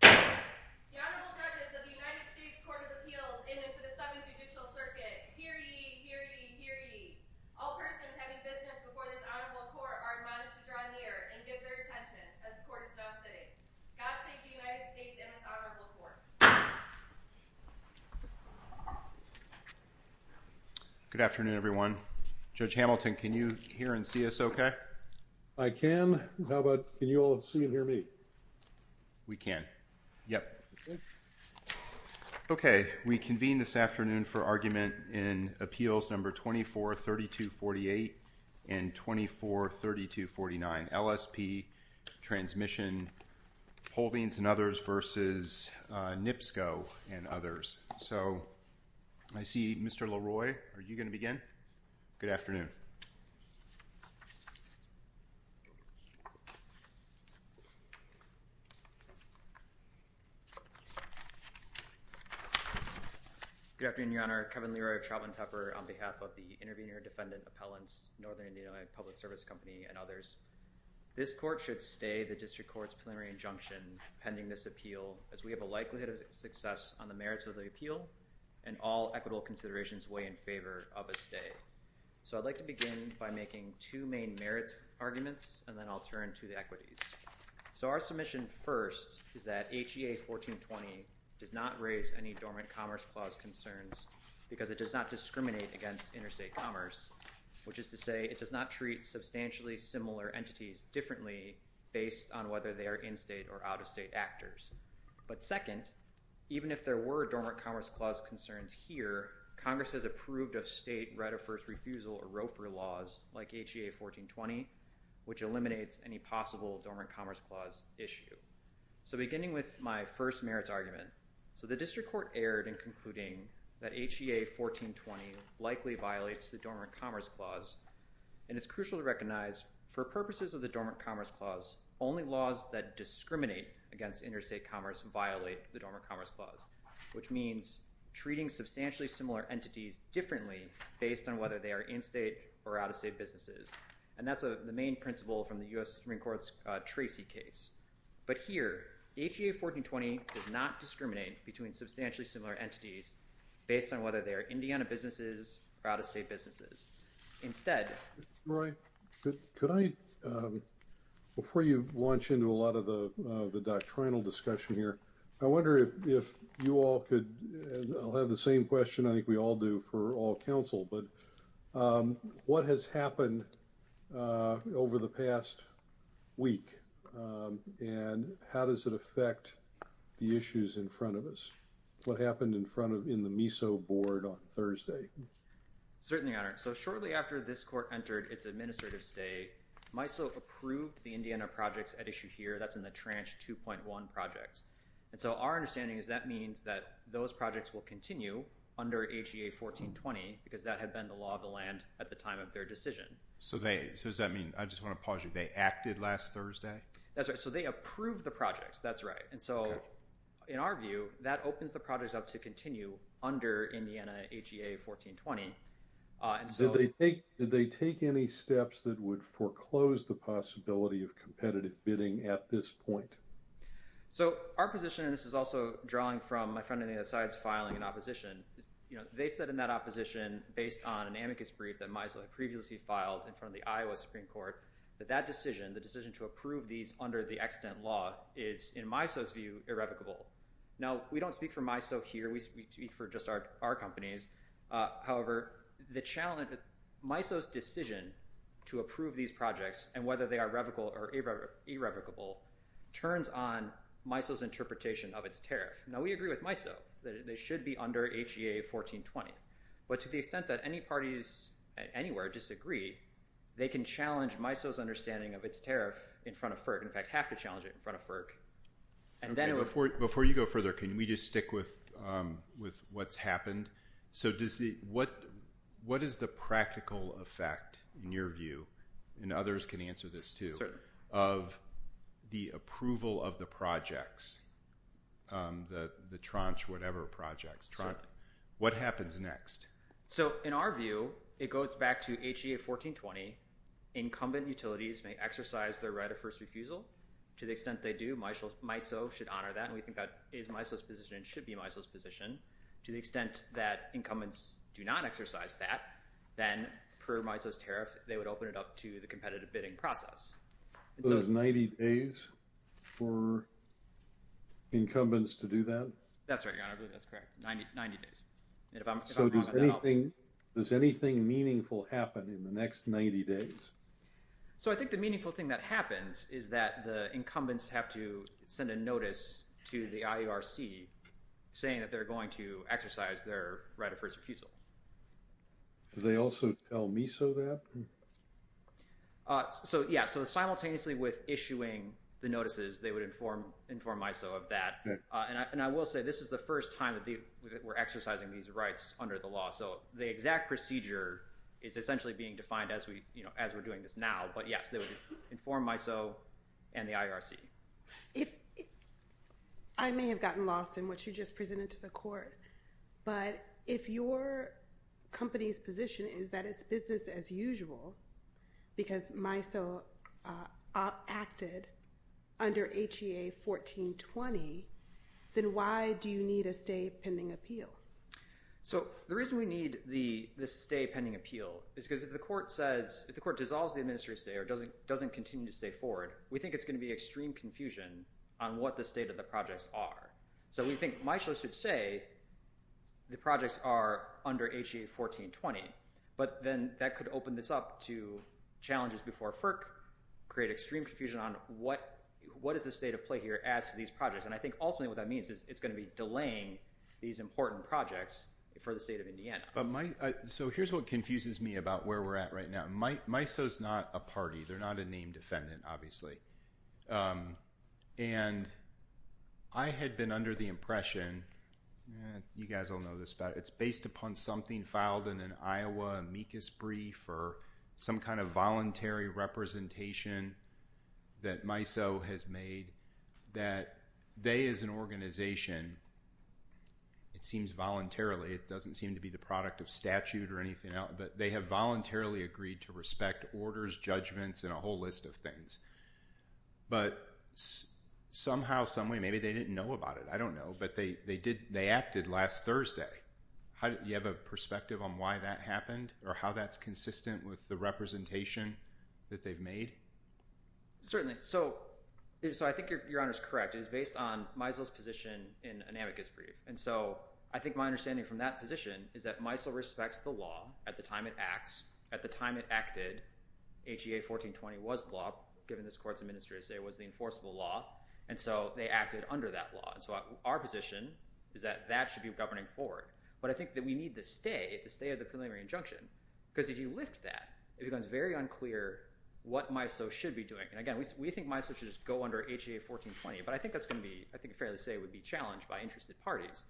The Honorable Judge of the United States Courts of Appeals is in the Seventh Judicial Circuit. Hear ye, hear ye, hear ye. All persons having witnesses before this Honorable Court are admonished to draw near and give their attendance as court is now sitting. Godspeed to the United States and its Honorable Court. Good afternoon everyone. Judge Hamilton, can you hear and see us okay? I can. How about, can you all see and hear me? We can, yep. Okay, we convene this afternoon for argument in Appeals No. 24-3248 and 24-3249, LSP Transmission Holdings and others v. NIPSCO and others. So I see Mr. LaRoy, are you going to begin? Good afternoon. Good afternoon, Your Honor. Kevin Leroy of Charlton Pepper on behalf of the Intervenor Defendant Appellants, Northern Indiana Public Service Company and others. This court should stay the District Court's preliminary injunction pending this appeal as we have a likelihood of success on the merits of the appeal and all equitable considerations weigh in favor of a stay. So I'd like to begin by making two main merits arguments and then I'll turn to the equities. So our submission first is that HEA 1420 did not raise any dormant commerce clause concerns because it does not discriminate against interstate commerce, which is to say it does not treat substantially similar entities differently based on whether they are in-state or out-of-state actors. But second, even if there were dormant commerce clause concerns here, Congress has approved of state right of first refusal or ROFR laws like HEA 1420, which eliminates any possible dormant commerce clause issue. So beginning with my first merits argument, so the District Court erred in concluding that HEA 1420 likely violates the dormant commerce clause and it's essential to recognize for purposes of the dormant commerce clause, only laws that discriminate against interstate commerce violate the dormant commerce clause, which means treating substantially similar entities differently based on whether they are in-state or out-of-state businesses. And that's the main principle from the U.S. Supreme Court's Tracy case. But here, HEA 1420 does not discriminate between substantially similar entities based on whether they are in-state or out-of-state. Before you launch into a lot of the doctrinal discussion here, I wonder if you all could – I'll have the same question I think we all do for all counsel, but what has happened over the past week and how does it affect the issues in front of us? What happened in front of – in the MISO board on Thursday? Certainly, Your Honor. So shortly after this court entered its administrative stay, MISO approved the Indiana projects at issue here. That's in the Tranche 2.1 project. And so our understanding is that means that those projects will continue under HEA 1420 because that had been the law of the land at the time of their decision. So they – so does that mean – I just want to pause you. They acted last Thursday? That's right. So they approved the projects. That's right. And so in our view, that opens the projects up to continue under Indiana HEA 1420. Did they take any steps that would foreclose the possibility of competitive bidding at this point? So our position – and this is also drawn from my friend on the other side's filing in opposition – they said in that opposition, based on an amicus brief that MISO had previously filed in front of the Iowa Supreme Court, that that decision, the decision to approve these under the accident law, is, in MISO's view, irrevocable. Now, we don't speak for MISO here. We speak for just our companies. However, the challenge – MISO's decision to approve these projects, and whether they are revocable or irrevocable, turns on MISO's interpretation of its tariff. Now, we agree with MISO that they should be under HEA 1420. But to the extent that any parties anywhere disagree, they can challenge MISO's understanding of its tariff in front of FERC – in fact, have to challenge it in front of FERC. Before you go further, can we just stick with what's happened? So what is the practical effect, in your view – and others can answer this too – of the approval of the projects, the tranche, whatever, projects? What happens next? So, in our view, it goes back to HEA 1420. Incumbent utilities may exercise their right of first refusal. To the extent they do, MISO should honor that, and we think that it is MISO's position and should be MISO's position. To the extent that incumbents do not exercise that, then, per MISO's tariff, they would open it up to the competitive bidding process. So there's 90 days for incumbents to do that? That's right, John. I believe that's correct. 90 days. So does anything meaningful happen in the next 90 days? So I think the meaningful thing that happens is that the incumbents have to send a notice to the IERC saying that they're going to exercise their right of first refusal. Do they also tell MISO that? Yeah. So simultaneously with issuing the notices, they would inform MISO of that. And I will say, this is the first time that we're exercising these rights under the law, so the exact procedure is essentially being defined as we're doing this now. But yeah, they would inform MISO and the IERC. I may have gotten lost in what you just presented to the court, but if your company's position is that it's business as usual because MISO acted under HEA 1420, then why do you need a stay pending appeal? So the reason we need the stay pending appeal is because if the court says, if the court dissolves the administrative stay or doesn't continue to stay forward, we think it's going to be extreme confusion on what the state of the projects are. So we think MISO should say the projects are under HEA 1420, but then that could open this up to challenges before FERC, create extreme confusion on what is the state of play here as to these projects. And I think ultimately what that means is it's going to be delaying these important projects for the state of Indiana. So here's what confuses me about where we're at right now. MISO's not a party. They're not a named defendant, obviously. And I had been under the impression, you guys all know this, but it's based upon something filed in an Iowa amicus brief or some kind of voluntary representation that MISO has made that they as an organization, it seems voluntarily, it doesn't seem to be the product of statute or anything else, but they have voluntarily agreed to respect orders, judgments, and a whole list of things. But somehow, someway, maybe they didn't know about it. I don't know. But they acted last Thursday. Do you have a perspective on why that happened or how that's consistent with the representation that they've made? Certainly. So I think your Honor's correct. It's based on MISO's position in an amicus brief. And so I think my understanding from that position is that MISO respects the law at the time it acts. At the time it acted, HEA 1420 was the law, given this Court's administration it was the enforceable law. And so they acted under that law. So our position is that that should be a governing board. But I think that we need to stay at the preliminary injunction because if you lift that, it becomes very unclear what MISO should be doing. And again, we think MISO should just go under HEA 1420, but I think that's going to be, I think it's fair to say, it would be challenged by interested parties.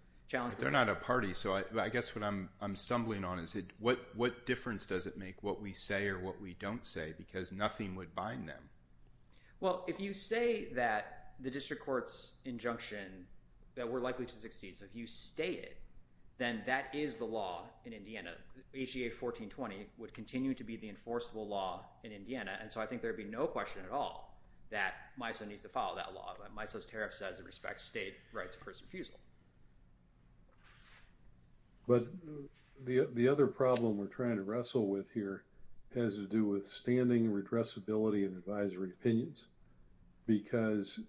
They're not a party, so I guess what I'm stumbling on is what difference does it make what we say or what we don't say because nothing would bind them. Well, if you say that the district court's injunction, that we're likely to succeed, so if you state it, then that is the law in Indiana. HEA 1420 would continue to be the enforceable law in Indiana. And so I think there would be no question at all that MISO needs to follow that law. But MISO's tariff says it respects state rights of person feasible. But the other problem we're trying to wrestle with here has to do with standing redressability of advisory opinions because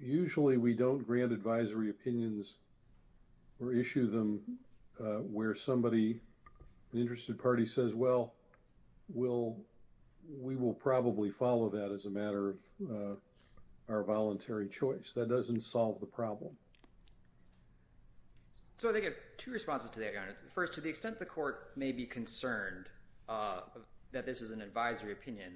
usually we don't grant advisory opinions or issue them where somebody, the interested party says, well, we will probably follow that as a matter of our voluntary choice. That doesn't solve the problem. So I think I have two responses to that, Your Honor. First, to the extent the court may be concerned that this is an advisory opinion,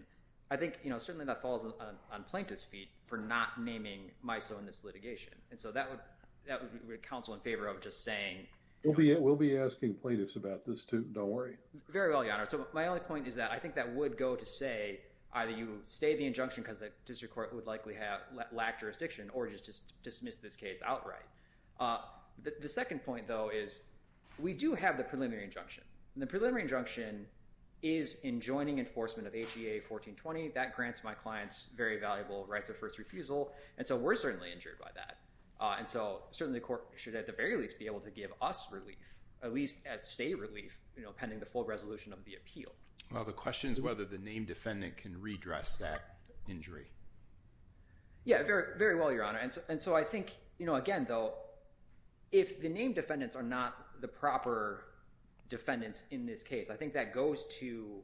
I think certainly that falls on plaintiff's feet for not naming MISO in this litigation. And so that would be counsel in favor of just saying… We'll be asking plaintiffs about this too. Don't worry. Very well, Your Honor. So my only point is that I think that would go to say either you state the injunction because the district court would likely lack jurisdiction or just dismiss this case outright. The second point, though, is we do have the preliminary injunction. And the preliminary injunction is in joining enforcement of HEA 1420. That grants my client's very valuable right to first refusal. And so we're certainly injured by that. And so certainly the court should at the very least be able to give us relief, at least at state relief, pending the full resolution of the appeal. The question is whether the named defendant can redress that injury. Yeah, very well, Your Honor. And so I think, again, though, if the named defendants are not the proper defendants in this case, I think that goes to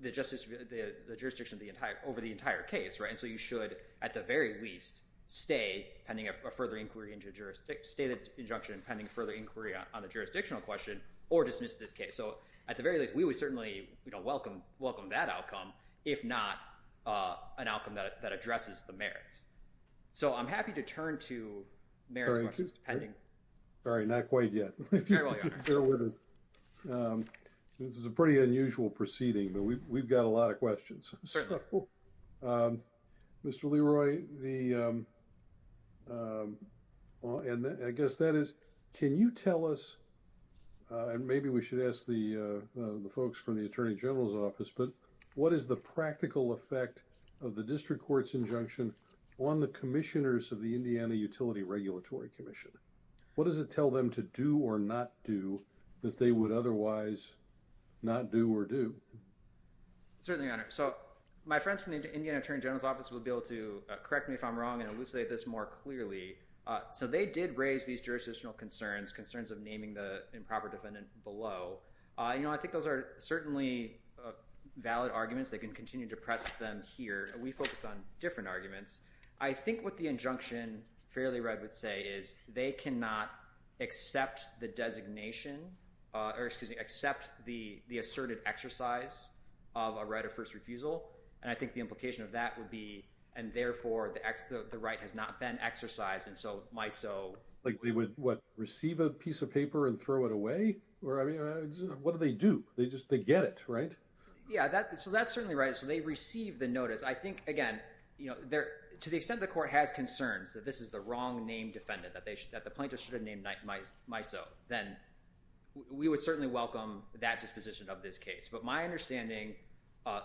the jurisdiction over the entire case. And so you should at the very least state a further injunction pending further inquiry on the jurisdictional question or dismiss this case. So at the very least, we would certainly welcome that outcome, if not an outcome that addresses the merits. So I'm happy to turn to merits versus pending. Sorry, not quite yet. This is a pretty unusual proceeding, but we've got a lot of questions. Mr. Leroy, I guess that is, can you tell us, and maybe we should ask the folks from the Attorney General's office, but what is the practical effect of the district court's injunction on the commissioners of the Indiana Utility Regulatory Commission? What does it tell them to do or not do that they would otherwise not do or do? Certainly, Your Honor. So my friends from the Indiana Attorney General's office will be able to correct me if I'm wrong and elucidate this more clearly. So they did raise these jurisdictional concerns, concerns of naming the improper defendant below. I think those are certainly valid arguments. They can continue to press them here. We focused on different arguments. I think what the injunction Fairley Wright would say is they cannot accept the designation, or excuse me, accept the asserted exercise of a right of first refusal. And I think the implication of that would be, and therefore the right has not been exercised, and so might so. Like they would, what, receive a piece of paper and throw it away? What do they do? They just get it, right? Yeah, so that's certainly right. So they receive the notice. I think, again, to the extent the court had concerns that this is the wrong name defendant, that the plaintiff should have named myself, then we would certainly welcome that disposition of this case. But my understanding,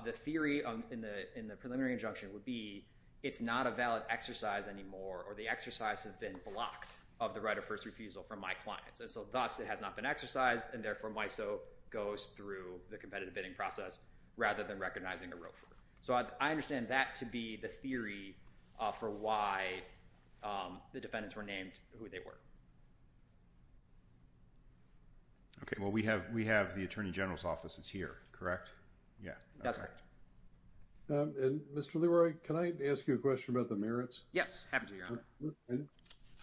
the theory in the preliminary injunction would be it's not a valid exercise anymore, or the exercise has been blocked of the right of first refusal from my client. So thus, it has not been exercised, and therefore might so goes through the competitive bidding process rather than recognizing a roofer. So I understand that to be the theory for why the defendants were named who they were. Okay, well, we have the Attorney General's office. It's here, correct? Yeah, that's right. Mr. Leroy, can I ask you a question about the merits? Yes, happy to, Your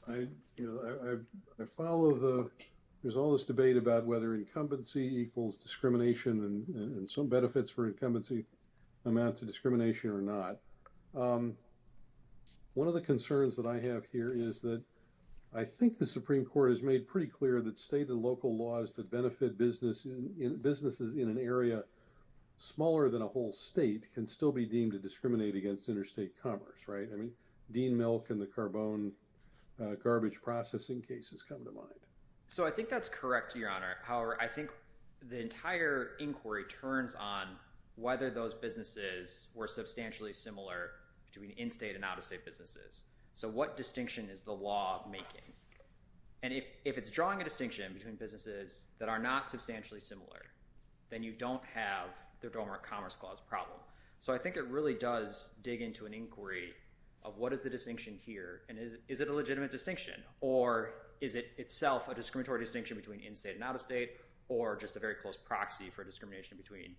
Honor. I follow the – there's all this debate about whether incumbency equals discrimination, and some benefits for incumbency amount to discrimination or not. One of the concerns that I have here is that I think the Supreme Court has made pretty clear that state and local laws that benefit businesses in an area smaller than a whole state can still be deemed to discriminate against interstate commerce, right? I mean, Dean Milk and the carbone garbage processing cases come to mind. So I think that's correct, Your Honor. However, I think the entire inquiry turns on whether those businesses were substantially similar between in-state and out-of-state businesses. So what distinction is the law making? And if it's drawing a distinction between businesses that are not substantially similar, then you don't have the Domerant Commerce Clause problem. So I think it really does dig into an inquiry of what is the distinction here, and is it a legitimate distinction, or is it itself a discriminatory distinction between in-state and out-of-state, or just a very close proxy for discrimination between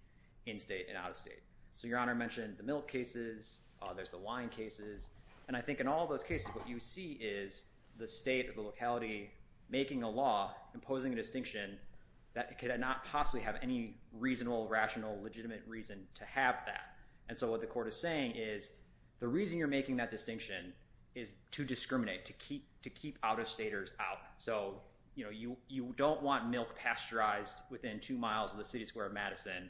in-state and out-of-state? So Your Honor mentioned the milk cases, there's the wine cases, and I think in all those cases what you see is the state or the locality making a law imposing a distinction that could not possibly have any reasonable, rational, legitimate reason to have that. And so what the court is saying is the reason you're making that distinction is to discriminate, to keep out-of-staters out. So you don't want milk pasteurized within two miles of the city square of Madison.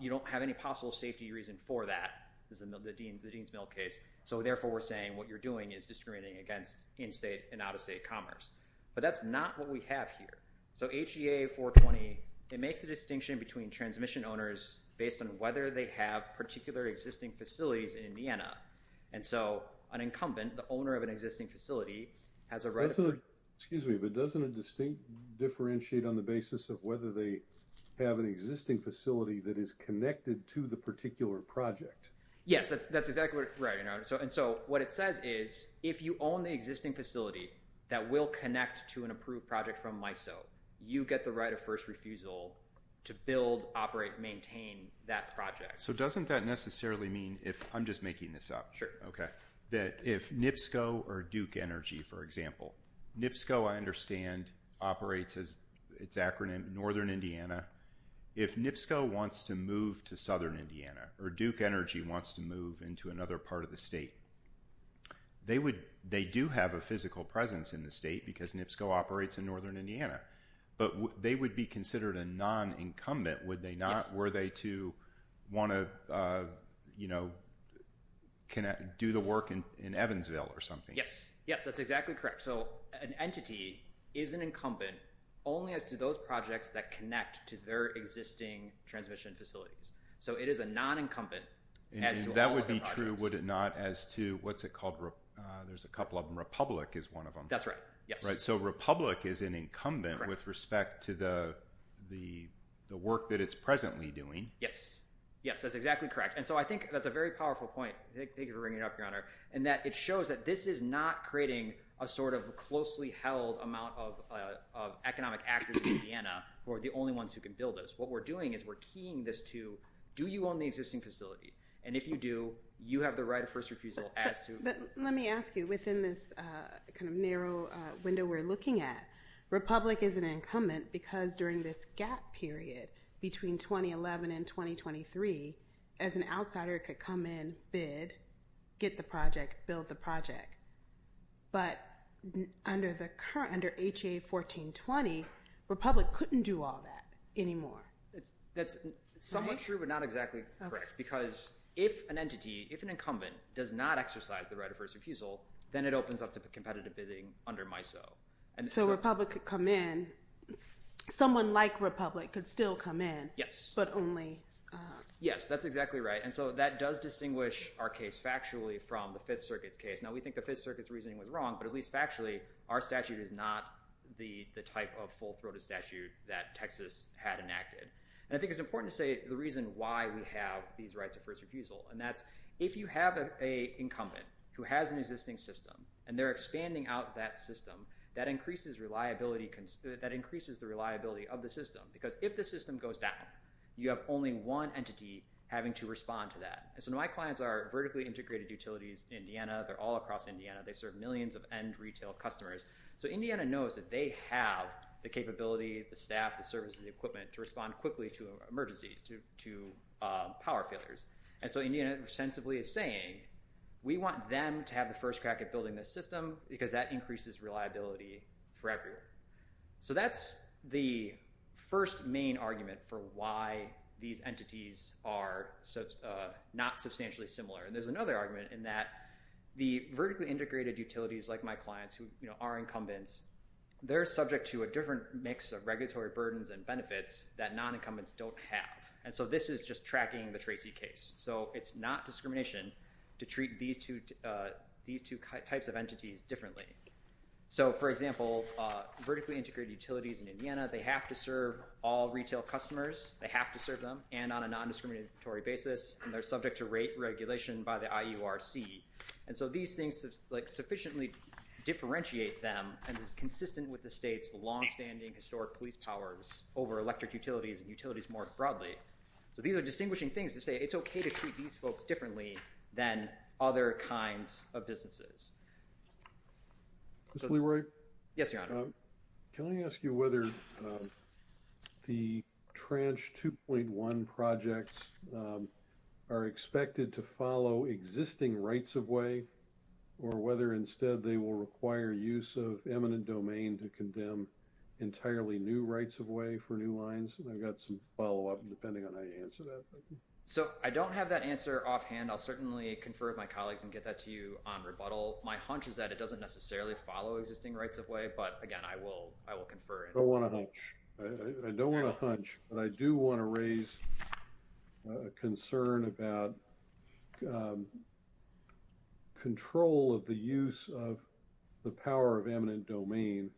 You don't have any possible safety reason for that, as in the Dean's Milk case, so therefore we're saying what you're doing is discriminating against in-state and out-of-state commerce. But that's not what we have here. So HEA 420, it makes a distinction between transmission owners based on whether they have particular existing facilities in Vienna. And so an incumbent, the owner of an existing facility, has a right to – Excuse me, but doesn't a distinct differentiate on the basis of whether they have an existing facility that is connected to the particular project? Yes, that's exactly right, Your Honor. And so what it says is if you own the existing facility that will connect to an approved project from MISO, you get the right of first refusal to build, operate, maintain that project. So doesn't that necessarily mean if – I'm just making this up. Okay, that if NIPSCO or Duke Energy, for example – NIPSCO, I understand, operates as its acronym Northern Indiana. If NIPSCO wants to move to Southern Indiana or Duke Energy wants to move into another part of the state, they do have a physical presence in the state because NIPSCO operates in Northern Indiana. But they would be considered a non-incumbent, would they not? Were they to want to do the work in Evansville or something? Yes, that's exactly correct. So an entity is an incumbent only as to those projects that connect to their existing transmission facilities. So it is a non-incumbent. That would be true, would it not, as to – what's it called? There's a couple of them. Republic is one of them. That's right, yes. So Republic is an incumbent with respect to the work that it's presently doing. Yes, yes, that's exactly correct. And so I think that's a very powerful point. Thank you for bringing it up, Your Honor. And that it shows that this is not creating a sort of closely held amount of economic actors in Indiana who are the only ones who can build this. What we're doing is we're keying this to do you own the existing facility? And if you do, you have the right of first refusal as to – But let me ask you, within this kind of narrow window we're looking at, Republic is an incumbent because during this gap period between 2011 and 2023, as an outsider could come in, bid, get the project, build the project. But under H.A. 1420, Republic couldn't do all that anymore. That's somewhat true but not exactly correct because if an entity, if an incumbent does not exercise the right of first refusal, then it opens up to competitive bidding under MISO. So Republic could come in. Someone like Republic could still come in. Yes. But only – Yes, that's exactly right. And so that does distinguish our case factually from the Fifth Circuit case. Now, we think the Fifth Circuit's reasoning was wrong, but at least factually, our statute is not the type of full-throated statute that Texas had enacted. And I think it's important to say the reason why we have these rights of first refusal, and that's if you have an incumbent who has an existing system and they're expanding out that system, that increases reliability – that increases the reliability of the system because if the system goes down, you have only one entity having to respond to that. And so my clients are vertically integrated utilities in Indiana. They're all across Indiana. They serve millions of end retail customers. So Indiana knows that they have the capability, the staff, the services, the equipment to respond quickly to emergencies, to power failures. And so Indiana ostensibly is saying we want them to have the first crack at building this system because that increases reliability for everyone. So that's the first main argument for why these entities are not substantially similar. And there's another argument in that the vertically integrated utilities, like my clients, who are incumbents, they're subject to a different mix of regulatory burdens and benefits that non-incumbents don't have. And so this is just tracking the Tracy case. So it's not discrimination to treat these two types of entities differently. So, for example, vertically integrated utilities in Indiana, they have to serve all retail customers. They have to serve them, and on a non-discriminatory basis, and they're subject to rate regulation by the IURC. And so these things sufficiently differentiate them, and it's consistent with the state's longstanding historic police powers over electric utilities and utilities more broadly. So these are distinguishing things to say it's okay to treat these folks differently than other kinds of businesses. Mr. LeRoy? Yes, Your Honor. Can I ask you whether the trans 2.1 projects are expected to follow existing rights of way or whether instead they will require use of eminent domain to condemn entirely new rights of way for new lines? And I've got some follow-up depending on how you answer that. So I don't have that answer offhand. I'll certainly confer with my colleagues and get that to you on rebuttal. My hunch is that it doesn't necessarily follow existing rights of way, but, again, I will confer. I don't want to hunch. I don't want to hunch, but I do want to raise a concern about control of the use of the power of eminent domain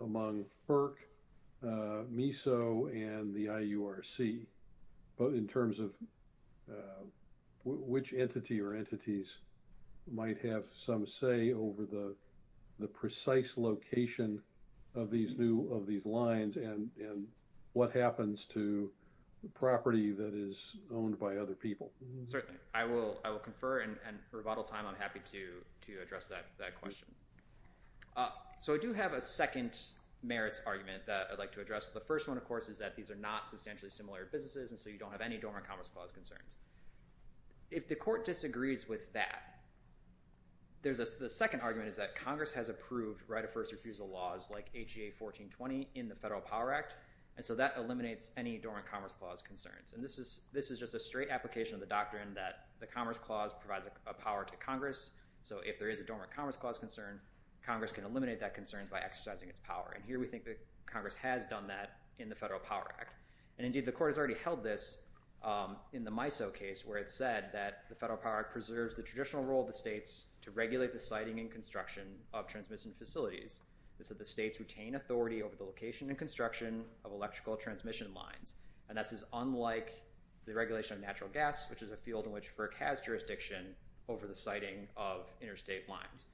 among FERC, MESO, and the IURC in terms of which entity or entities might have some say over the precise location of these lines and what happens to property that is owned by other people. Certainly. I will confer. And for rebuttal time, I'm happy to address that question. So I do have a second merits argument that I'd like to address. The first one, of course, is that these are not substantially similar businesses and so you don't have any dormant commerce clause concerns. If the court disagrees with that, the second argument is that Congress has approved right-of-first refusal laws like HEA 1420 in the Federal Power Act, and so that eliminates any dormant commerce clause concerns. And this is just a straight application of the doctrine that the commerce clause provides a power to Congress, so if there is a dormant commerce clause concern, Congress can eliminate that concern by exercising its power. And here we think that Congress has done that in the Federal Power Act. And, indeed, the court has already held this in the MISO case where it said that the Federal Power Act preserves the traditional role of the states to regulate the siting and construction of transmission facilities, that the states retain authority over the location and construction of electrical transmission lines. And that is unlike the regulation of natural gas, which is a field in which FERC has jurisdiction over the siting of interstate lines.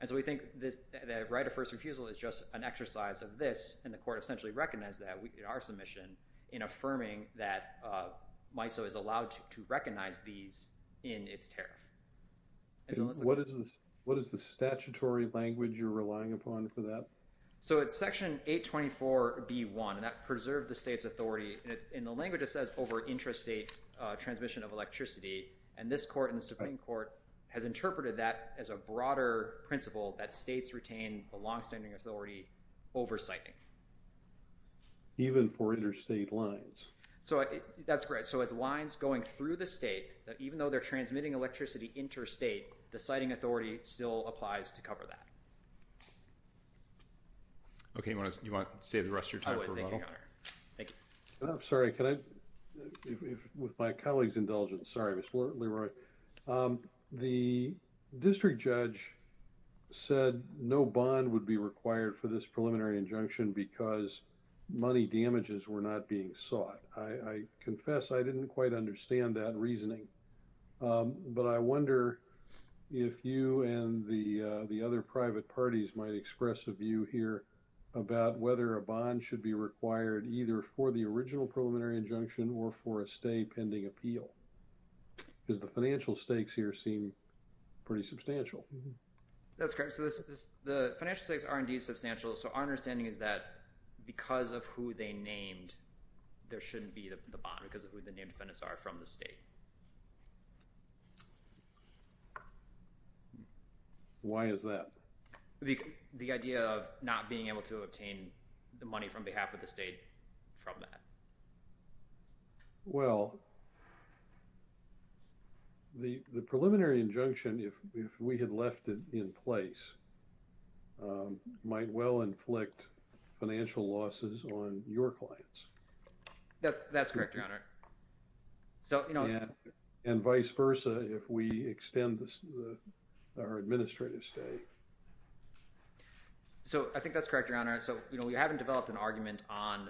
And so we think that right-of-first refusal is just an exercise of this, and the court essentially recognized that in our submission in affirming that MISO is allowed to recognize these in its tariff. And what is the statutory language you're relying upon for that? So it's Section 824.b.1. That's preserve the state's authority. In the language it says over interstate transmission of electricity, and this court in the Supreme Court has interpreted that as a broader principle that states retain the longstanding authority over siting. Even for interstate lines? That's correct. So as lines going through the state, that even though they're transmitting electricity interstate, the siting authority still applies to cover that. Okay. Do you want to save the rest of your time? Thank you. I'm sorry. With my colleague's indulgence, sorry, Mr. Leroy. The district judge said no bond would be required for this preliminary injunction because money damages were not being sought. I confess I didn't quite understand that reasoning, but I wonder if you and the other private parties might express a view here about whether a bond should be required either for the original preliminary injunction or for a state pending appeal. Because the financial stakes here seem pretty substantial. That's correct. So the financial stakes are indeed substantial. So our understanding is that because of who they named, there shouldn't be a bond because of who the named defendants are from the state. Why is that? The idea of not being able to obtain the money from behalf of the state from that? Well, the preliminary injunction, if we had left it in place, might well inflict financial losses on your clients. That's correct, Your Honor. And vice versa if we extend our administrative state. So I think that's correct, Your Honor. So we haven't developed an argument on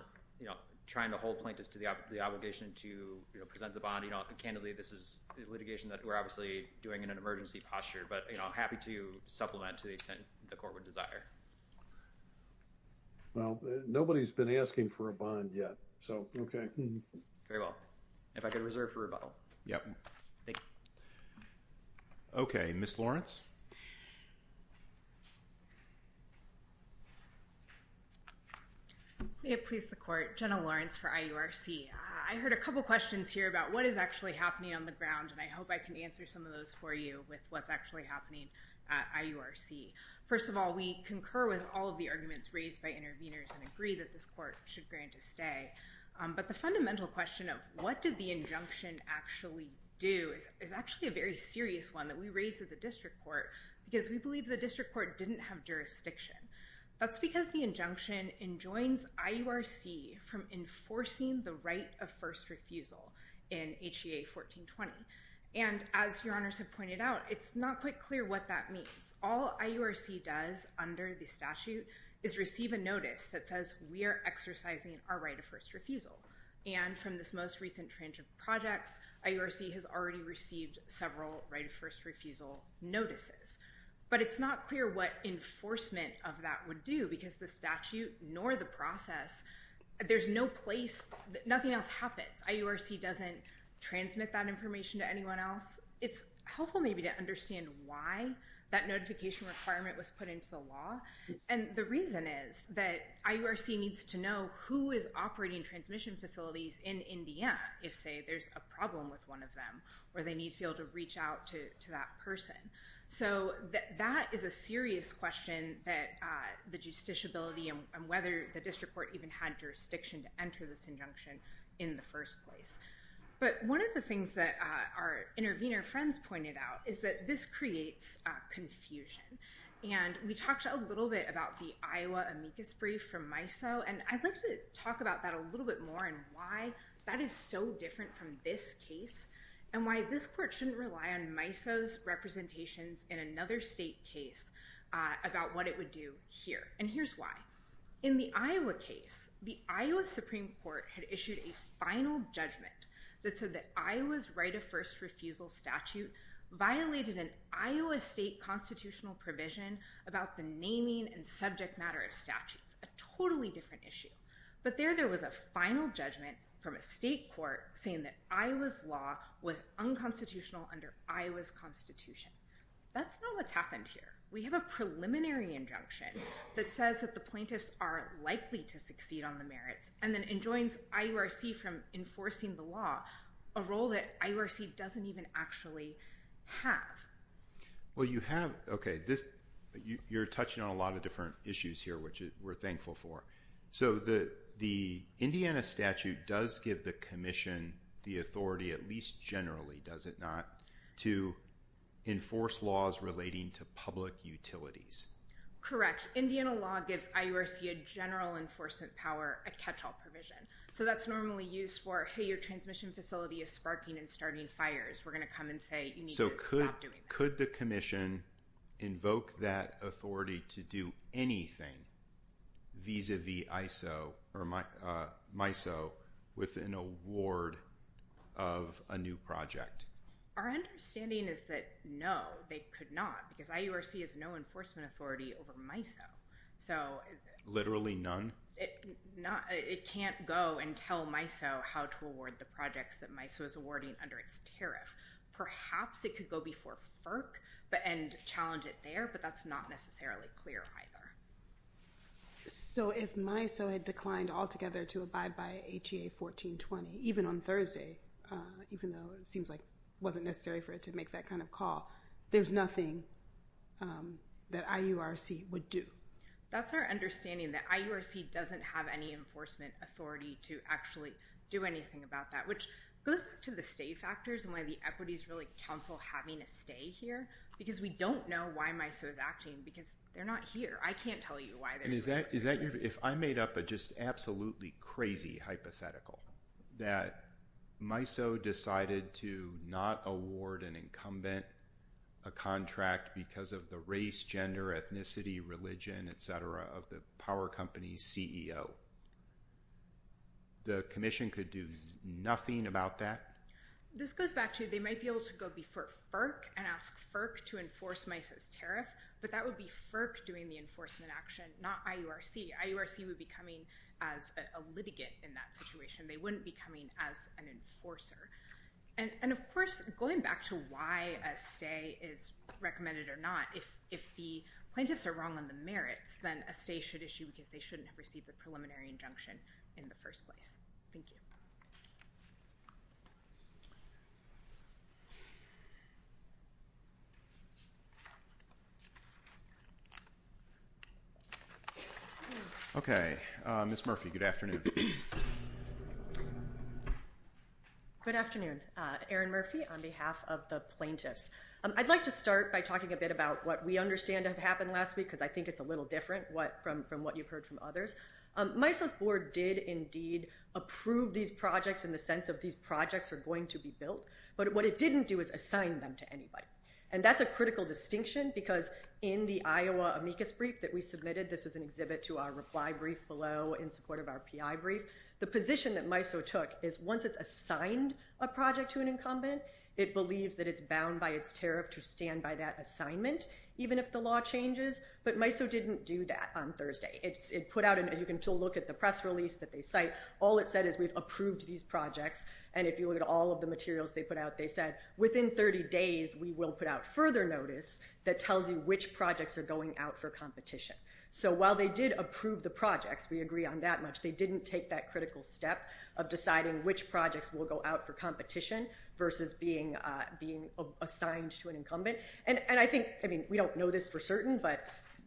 trying to hold plaintiffs to the obligation to present the bond. Candidly, this is litigation that we're obviously doing in an emergency posture, but I'm happy to supplement to the extent the court would desire. Well, nobody's been asking for a bond yet. So okay. Very well. If I could reserve for rebuttal. Okay. Ms. Lawrence. May it please the court. Jenna Lawrence for IURC. I heard a couple questions here about what is actually happening on the ground, and I hope I can answer some of those for you with what's actually happening at IURC. First of all, we concur with all of the arguments raised by interveners and agree that this court should grant a stay. But the fundamental question of what did the injunction actually do is actually a very serious one that we raised with the district court, because we believe the district court didn't have jurisdiction. That's because the injunction enjoins IURC from enforcing the right of first refusal in HEA 1420. And as Your Honors have pointed out, it's not quite clear what that means. All IURC does under the statute is receive a notice that says we are exercising our right of first refusal. And from this most recent tranche of projects, IURC has already received several right of first refusal notices. But it's not clear what enforcement of that would do because the statute nor the process, there's no place, nothing else happens. IURC doesn't transmit that information to anyone else. It's helpful maybe to understand why that notification requirement was put into the law. And the reason is that IURC needs to know who is operating transmission facilities in MDM if, say, there's a problem with one of them or they need to be able to reach out to that person. So that is a serious question that the justiciability and whether the district court even had jurisdiction to enter this injunction in the first place. But one of the things that our intervener friends pointed out is that this creates confusion. And we talked a little bit about the Iowa amicus brief from MISO, and I'd like to talk about that a little bit more and why that is so different from this case and why this court shouldn't rely on MISO's representations in another state case about what it would do here. And here's why. In the Iowa case, the Iowa Supreme Court had issued a final judgment that said that Iowa's right of first refusal statute violated an Iowa state constitutional provision about the naming and subject matter of statute. A totally different issue. But there, there was a final judgment from a state court saying that Iowa's law was unconstitutional under Iowa's constitution. That's not what's happened here. We have a preliminary injunction that says that the plaintiffs are likely to succeed on the merits and then enjoins IORC from enforcing the law, a role that IORC doesn't even actually have. Well, you have, okay, you're touching on a lot of different issues here, which we're thankful for. So the Indiana statute does give the commission the authority, at least generally, does it not, to enforce laws relating to public utilities? Correct. Indiana law gives IORC a general enforcement power, a catch-all provision. So that's normally used for, hey, your transmission facility is sparking and starting fires. We're going to come and say you need to stop doing that. Could the commission invoke that authority to do anything vis-a-vis ISO or MISO with an award of a new project? Our understanding is that no, they could not. Because IORC has no enforcement authority over MISO. Literally none? It can't go and tell MISO how to award the projects that MISO is awarding under its tariff. Perhaps it could go before FERC and challenge it there, but that's not necessarily clear either. So if MISO had declined altogether to abide by HEA 1420, even on Thursday, even though it seems like it wasn't necessary for it to make that kind of call, there's nothing that IORC would do? That's our understanding, that IORC doesn't have any enforcement authority to actually do anything about that. Which goes to the stay factors and why the equities really counsel having it stay here. Because we don't know why MISO is acting, because they're not here. I can't tell you why they're not here. If I made up a just absolutely crazy hypothetical, that MISO decided to not award an incumbent a contract because of the race, gender, ethnicity, religion, et cetera, of the power company's CEO, the commission could do nothing about that? This goes back to they might be able to go before FERC and ask FERC to enforce MISO's tariff, but that would be FERC doing the enforcement action, not IORC. IORC would be coming as a litigant in that situation. They wouldn't be coming as an enforcer. And of course, going back to why a stay is recommended or not, if the plaintiffs are wrong on the merits, then a stay should issue because they shouldn't have received the preliminary injunction in the first place. Thank you. Okay. Ms. Murphy, good afternoon. Good afternoon. Erin Murphy on behalf of the plaintiffs. I'd like to start by talking a bit about what we understand happened last week because I think it's a little different from what you've heard from MISO's board did indeed approve these projects in the sense of these projects are going to be built. But what it didn't do is assign them to anybody. And that's a critical distinction because in the Iowa amicus brief that we submitted, this is an exhibit to our reply brief below in support of our PI brief, the position that MISO took is once it's assigned a project to an incumbent, it believes that it's bound by its tariff to stand by that assignment, even if the law changes. But MISO didn't do that on Thursday. It put out an, as you can still look at the press release that they cite, all it said is we've approved these projects. And if you look at all of the materials they put out, they said within 30 days, we will put out further notice that tells you which projects are going out for competition. So while they did approve the projects, we agree on that much. They didn't take that critical step of deciding which projects will go out for competition versus being, being assigned to an incumbent. And I think, I mean, we don't know this for certain, but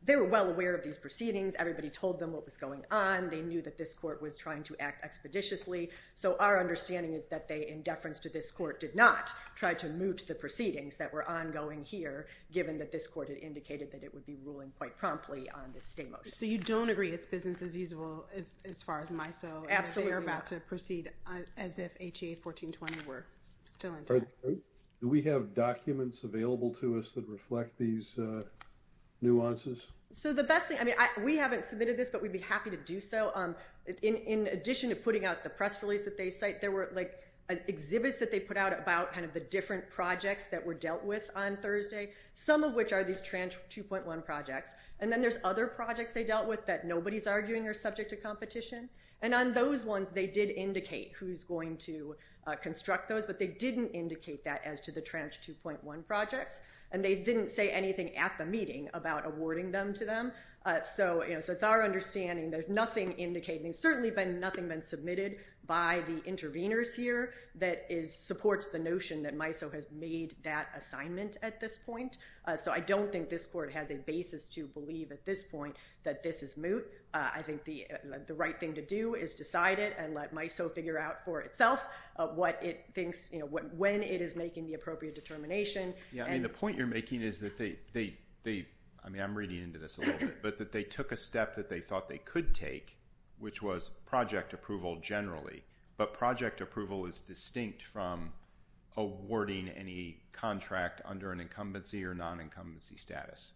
they were well aware of these proceedings. Everybody told them what was going on. They knew that this court was trying to act expeditiously. So our understanding is that they, in deference to this court, did not try to move to the proceedings that were ongoing here, given that this court had indicated that it would be ruling quite promptly on this. So you don't agree. It's business as usual as far as MISO. Absolutely. We're about to proceed as if HEA 1420 were still in place. Do we have documents available to us that reflect these nuances? So the best thing, I mean, we haven't submitted this, but we'd be happy to do so. In addition to putting out the press release that they cite, there were like exhibits that they put out about kind of the different projects that were dealt with on Thursday, some of which are these trans 2.1 projects. And then there's other projects they dealt with that nobody's arguing are subject to competition. And on those ones, they did indicate who's going to construct those, but they didn't indicate that as to the trans 2.1 project. And they didn't say anything at the meeting about awarding them to them. So, you know, so it's our understanding. There's nothing indicating, certainly nothing been submitted by the intervenors here that is supports the notion that MISO has made that assignment at this point. So I don't think this court has a basis to believe at this point that this is moot. I think the right thing to do is decide it and let MISO figure out for itself what it thinks, you know, when it is making the appropriate determination. Yeah. And the point you're making is that they, I mean, I'm reading into this a little bit, but that they took a step that they thought they could take, which was project approval generally. But project approval is distinct from awarding any contract under an incumbency or non-incumbency status.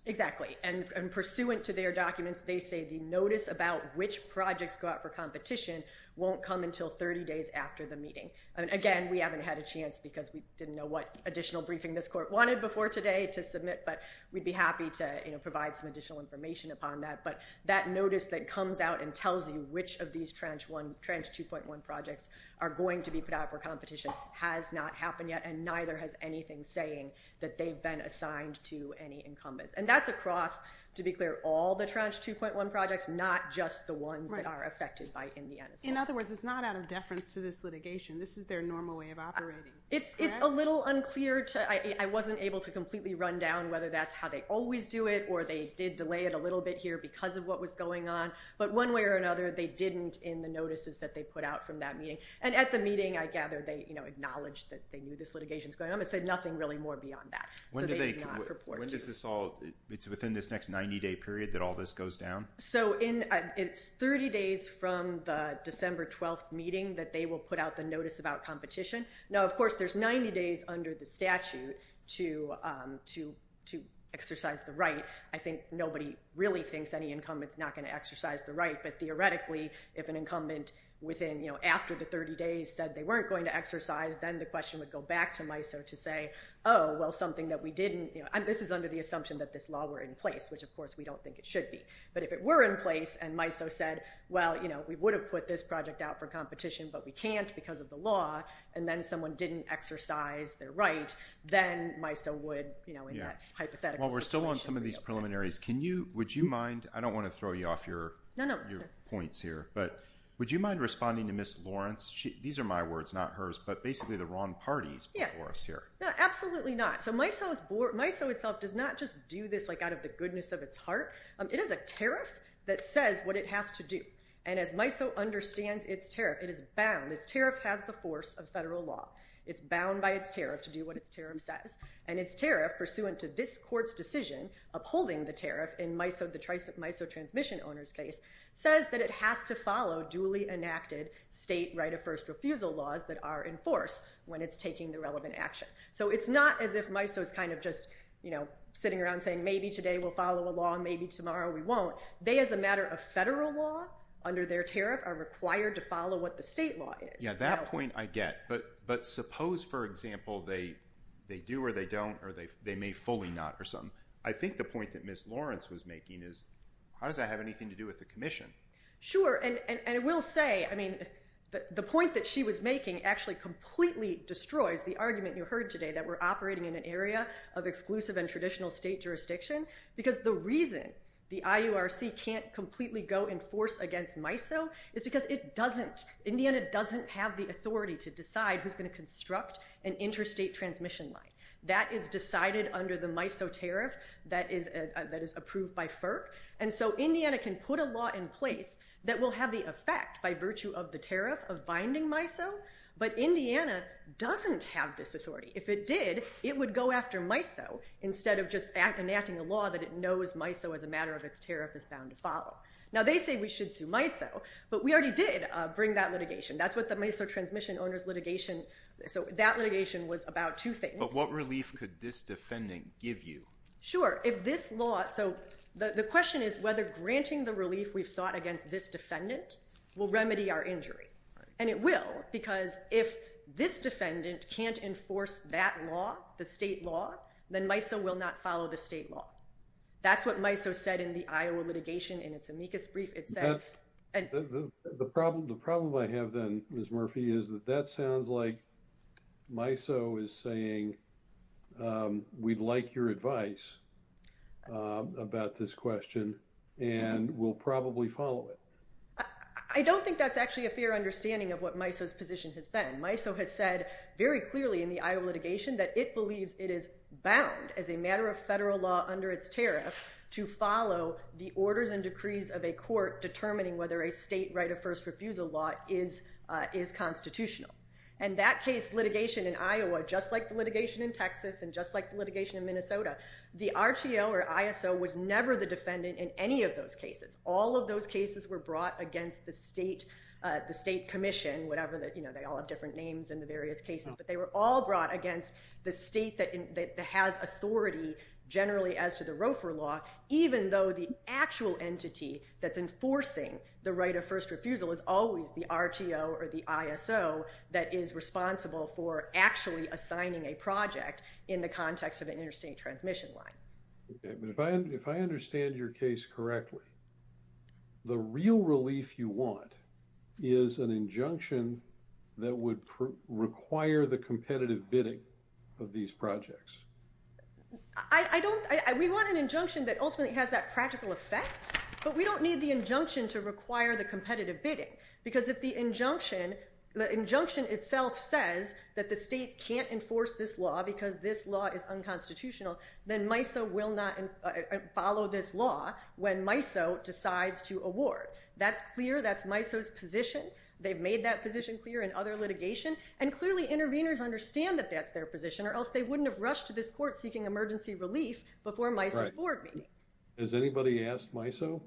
And pursuant to their documents, they say the notice about which projects go out for competition won't come until 30 days after the meeting. And again, we haven't had a chance because we didn't know what additional briefing this court wanted before today to submit, but we'd be happy to, you know, provide some additional information upon that. But that notice that comes out and tells you which of these tranche one tranche 2.1 projects are going to be put out for competition has not happened yet. And neither has anything saying that they've been assigned to any incumbents. And that's across, to be clear, all the tranche 2.1 projects, not just the ones that are affected by MISO. In other words, it's not out of deference to this litigation. This is their normal way of operating. It's a little unclear to, I, I wasn't able to completely run down whether that's how they always do it, or they did delay it a little bit here because of what was going on. But one way or another, they didn't in the notices that they put out from that meeting. And at the meeting, I gather they, you know, acknowledged that they knew this litigation was going on, but said nothing really more beyond that. When does this all it's within this next 90 day period that all this goes down. So in 30 days from the December 12th meeting that they will put out the notice about competition. Now, of course, there's 90 days under the statute to, to, to exercise the right. I think nobody really thinks any incumbents not going to exercise the right, but theoretically, if an incumbent within, you know, after the 30 days that they weren't going to exercise, then the question would go back to MISO to say, Oh, well, something that we didn't, you know, this is under the assumption that this law were in place, which of course, we don't think it should be, but if it were in place and MISO said, well, you know, we would have put this project out for competition, but we can't because of the law. And then someone didn't exercise their right. Then MISO would, you know, hypothetically. Well, we're still on some of these preliminaries. Can you, would you mind, I don't want to throw you off your points here, but would you mind responding to Ms. Lawrence? She, these are my words, not hers, but basically the wrong parties for us here. Yeah, absolutely not. So MISO itself does not just do this, like out of the goodness of its heart. It is a tariff that says what it has to do. And as MISO understands its tariff, it is bound, its tariff has the force of federal law. It's bound by its tariff to do what its tariff says. And its tariff pursuant to this court's decision upholding the tariff in MISO, the tricep MISO transmission owners case says that it has to follow duly enacted state right of first refusal laws that are enforced when it's taking the relevant action. So it's not as if MISO is kind of just, you know, maybe today we'll follow a law and maybe tomorrow we won't. They as a matter of federal law under their tariff are required to follow what the state law is. Yeah, that point I get. But suppose, for example, they do or they don't, or they may fully not or something. I think the point that Ms. Lawrence was making is how does that have anything to do with the commission? Sure. And we'll say, I mean, the point that she was making actually completely destroys the argument you heard today that we're operating in an area of exclusive and traditional state jurisdiction. Because the reason the IURC can't completely go and force against MISO is because it doesn't, Indiana doesn't have the authority to decide who's going to construct an interstate transmission line that is decided under the MISO tariff that is approved by FERC. And so Indiana can put a law in place that will have the effect by virtue of the tariff of binding MISO. But Indiana doesn't have this authority. If it did, it would go after MISO instead of just enacting a law that it knows MISO as a matter of its tariff is bound to follow. Now they say we should do MISO, but we already did bring that litigation. That's what the MISO transmission owners litigation. So that litigation was about two things. But what relief could this defendant give you? Sure. If this law, so the question is whether granting the relief we've sought against this defendant will remedy our injury. And it will because if this defendant can't enforce that law, the state law, then MISO will not follow the state law. That's what MISO said in the Iowa litigation in its amicus brief. The problem I have then Ms. Murphy is that that sounds like MISO is saying, we'd like your advice about this question and we'll probably follow it. I don't think that's actually a fair understanding of what MISO's position has been. MISO has said very clearly in the Iowa litigation that it believes it is bound as a matter of federal law under its tariff to follow the orders and decrees of a court determining whether a state right of first refusal law is constitutional. And that case litigation in Iowa, just like the litigation in Texas and just like the litigation in Minnesota, the RTO or ISO was never the defendant in any of those cases. All of those cases were brought against the state commission, whatever, they all have different names in the various cases, but they were all brought against the state that has authority generally as to the ROFR law, even though the actual entity that's enforcing the right of first refusal is always the RTO or the ISO that is responsible for actually assigning a project in the context of an interstate transmission line. If I understand your case correctly, the real relief you want is an injunction that would require the competitive bidding of these projects. I don't, we want an injunction that ultimately has that practical effect, but we don't need the injunction to require the competitive bidding because if the injunction, the injunction itself says that the state can't enforce this law because this ISO will not follow this law when MISO decides to award. That's clear, that's MISO's position. They've made that position clear in other litigation and clearly interveners understand that that's their position or else they wouldn't have rushed to this court seeking emergency relief before MISO. Has anybody asked MISO?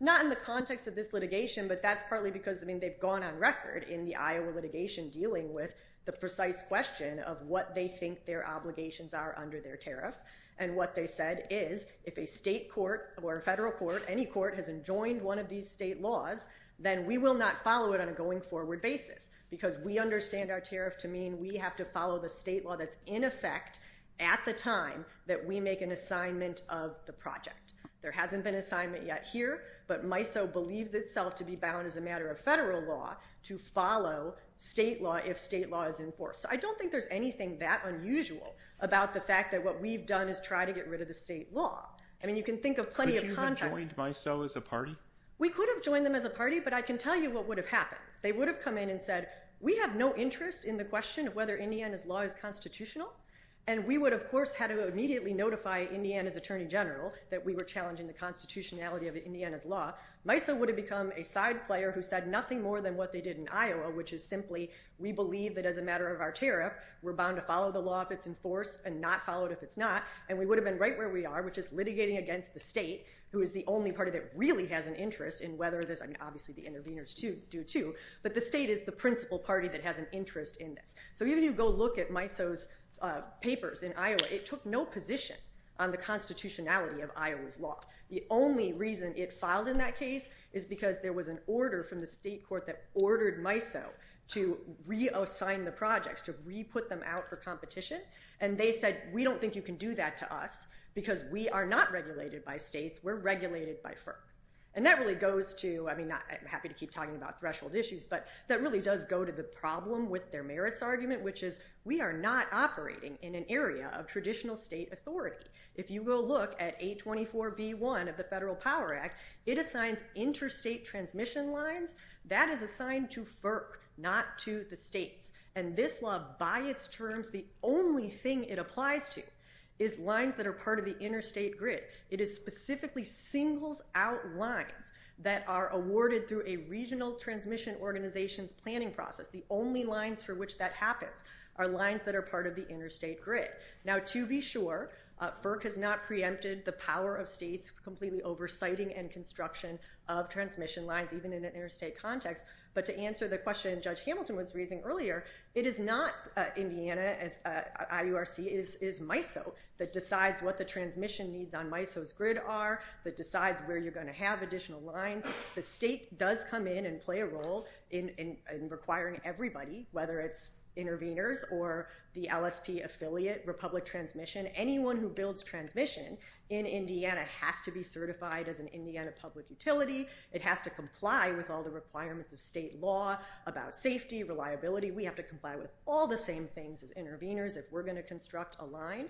Not in the context of this litigation, but that's partly because I mean they've gone on record in the Iowa litigation dealing with the precise question of what they think their obligations are under their tariff and what they said is if a state court or a federal court, any court has enjoined one of these state laws, then we will not follow it on a going forward basis because we understand our tariff to mean we have to follow the state law that's in effect at the time that we make an assignment of the project. There hasn't been assignment yet here, but MISO believes itself to be bound as a matter of federal law to follow state law if state law is enforced. I don't think there's anything that unusual about the fact that what we've done is try to get rid of the state law. I mean you can think of plenty of context. Could you have joined MISO as a party? We could have joined them as a party, but I can tell you what would have happened. They would have come in and said we have no interest in the question of whether Indiana's law is constitutional, and we would of course have to immediately notify Indiana's Attorney General that we were challenging the constitutionality of Indiana's law. MISO would have become a side player who said nothing more than what they did in our tariff. We're bound to follow the law if it's enforced and not follow it if it's not, and we would have been right where we are, which is litigating against the state, who is the only party that really has an interest in whether this, I mean obviously the interveners do too, but the state is the principal party that has an interest in this. So even if you go look at MISO's papers in Iowa, it took no position on the constitutionality of Iowa's law. The only reason it filed in that case is because there was an order from the legislature to re-put them out for competition, and they said we don't think you can do that to us because we are not regulated by states, we're regulated by FERC. And that really goes to, I mean I'm happy to keep talking about threshold issues, but that really does go to the problem with their merits argument, which is we are not operating in an area of traditional state authority. If you will look at A24B1 of the Federal Power Act, it assigns interstate transmission lines. That is assigned to FERC, not to the states. And this law, by its terms, the only thing it applies to is lines that are part of the interstate grid. It is specifically singles out lines that are awarded through a regional transmission organization's planning process. The only lines through which that happens are lines that are part of the interstate grid. Now to be sure, FERC has not preempted the power of states completely oversighting and construction of transmission lines even in an interstate context. But to answer the question Judge Hamilton was raising earlier, it is not Indiana, IURC, it is MISO that decides what the transmission needs on MISO's grid are, that decides where you're going to have additional lines. The state does come in and play a role in requiring everybody, whether it's intervenors or the LSP affiliate, Republic Transmission, anyone who builds transmission in Indiana has to be certified as an Indiana public utility. It has to comply with all the requirements of state law about safety, reliability. We have to comply with all the same things as intervenors if we're going to construct a line.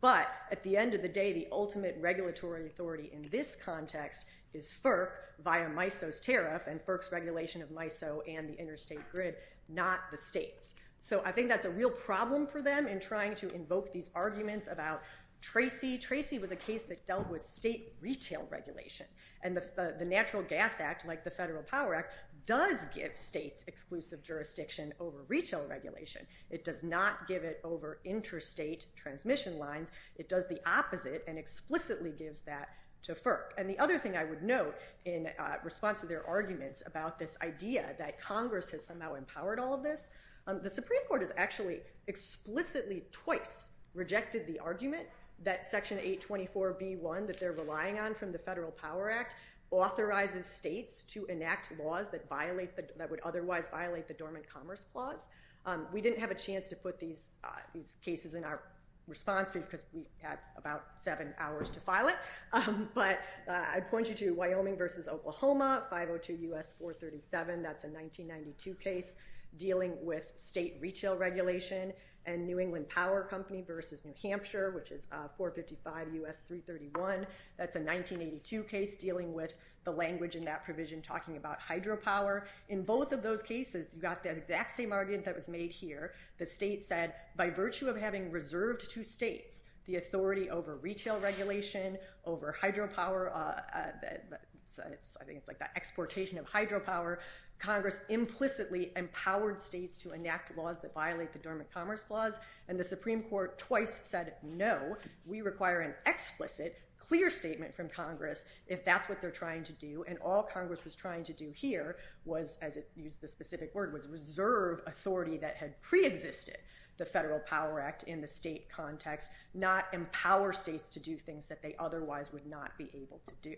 But at the end of the day, the ultimate regulatory authority in this context is FERC via MISO's tariff and FERC's regulation of MISO and the interstate grid, not the state. So I think that's a real problem for them in trying to invoke these arguments about Tracy. Tracy was a case that dealt with state retail regulation. And the Natural Gas Act, like the Federal Power Act, does give states exclusive jurisdiction over retail regulation. It does not give it over interstate transmission lines. It does the opposite and explicitly gives that to FERC. And the other thing I would note in response to their arguments about this idea that Congress has somehow empowered all of this, the Supreme Court has actually explicitly twice rejected the argument that Section 824B1 that they're relying on from the Federal Power Act authorizes states to enact laws that would otherwise violate the Dormant Commerce Clause. We didn't have a chance to put these cases in our response because we had about seven hours to file it. But I point you to Wyoming versus Oklahoma, 502 U.S. 437. That's a 1992 case dealing with state retail regulation and New England Power Company versus New Hampshire, which is 455 U.S. 331. That's a 1982 case dealing with the language in that provision talking about hydropower. In both of those cases, you got the exact same argument that was made here. The state said, by virtue of having reserved to states the authority over retail regulation, over hydropower, I think it's like the exportation of hydropower, Congress implicitly empowered states to enact laws that violate the Dormant Commerce Clause. And the Supreme Court twice said, no, we require an explicit, clear statement from Congress if that's what they're trying to do. And all Congress was trying to do here was, as it used the specific word, was reserve authority that had preexisted the Federal Power Act in the state context, not empower states to do things that they otherwise would not be able to do.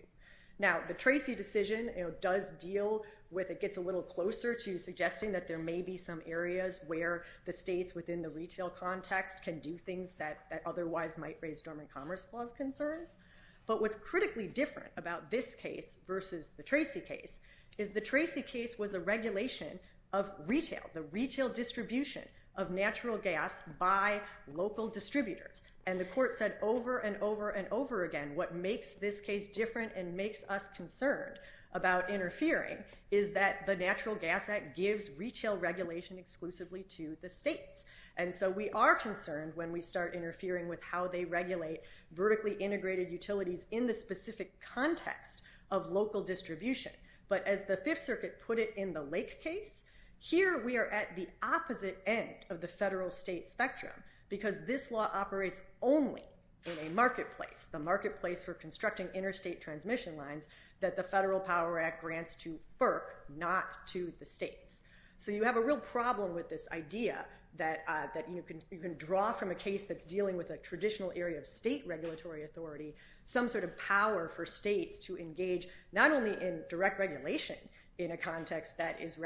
Now, the Tracy decision does deal with, it gets a little closer to suggesting that there may be some areas where the states within the retail context can do things that otherwise might raise Dormant Commerce Clause concerns. But what's critically different about this case versus the Tracy case is the Tracy case was a regulation of retail, the retail distribution of natural gas by local distributors. And the court said over and over and over again, what makes this case different and makes us concerned about interfering is that the Natural Gas Act gives retail regulation exclusively to the states. And so we are concerned when we start interfering with how they regulate vertically integrated utilities in the specific context of local distribution. But as the Fifth Circuit put it in the Lake case, here we are at the opposite end of the federal-state spectrum because this law operates only in a marketplace, the marketplace for constructing interstate transmission lines that the Federal Power Act grants to FERC, not to the states. So you have a real problem with this idea that you can draw from a case that's dealing with a traditional area of state regulatory authority some sort of power for states to engage not only in direct regulation in a context that is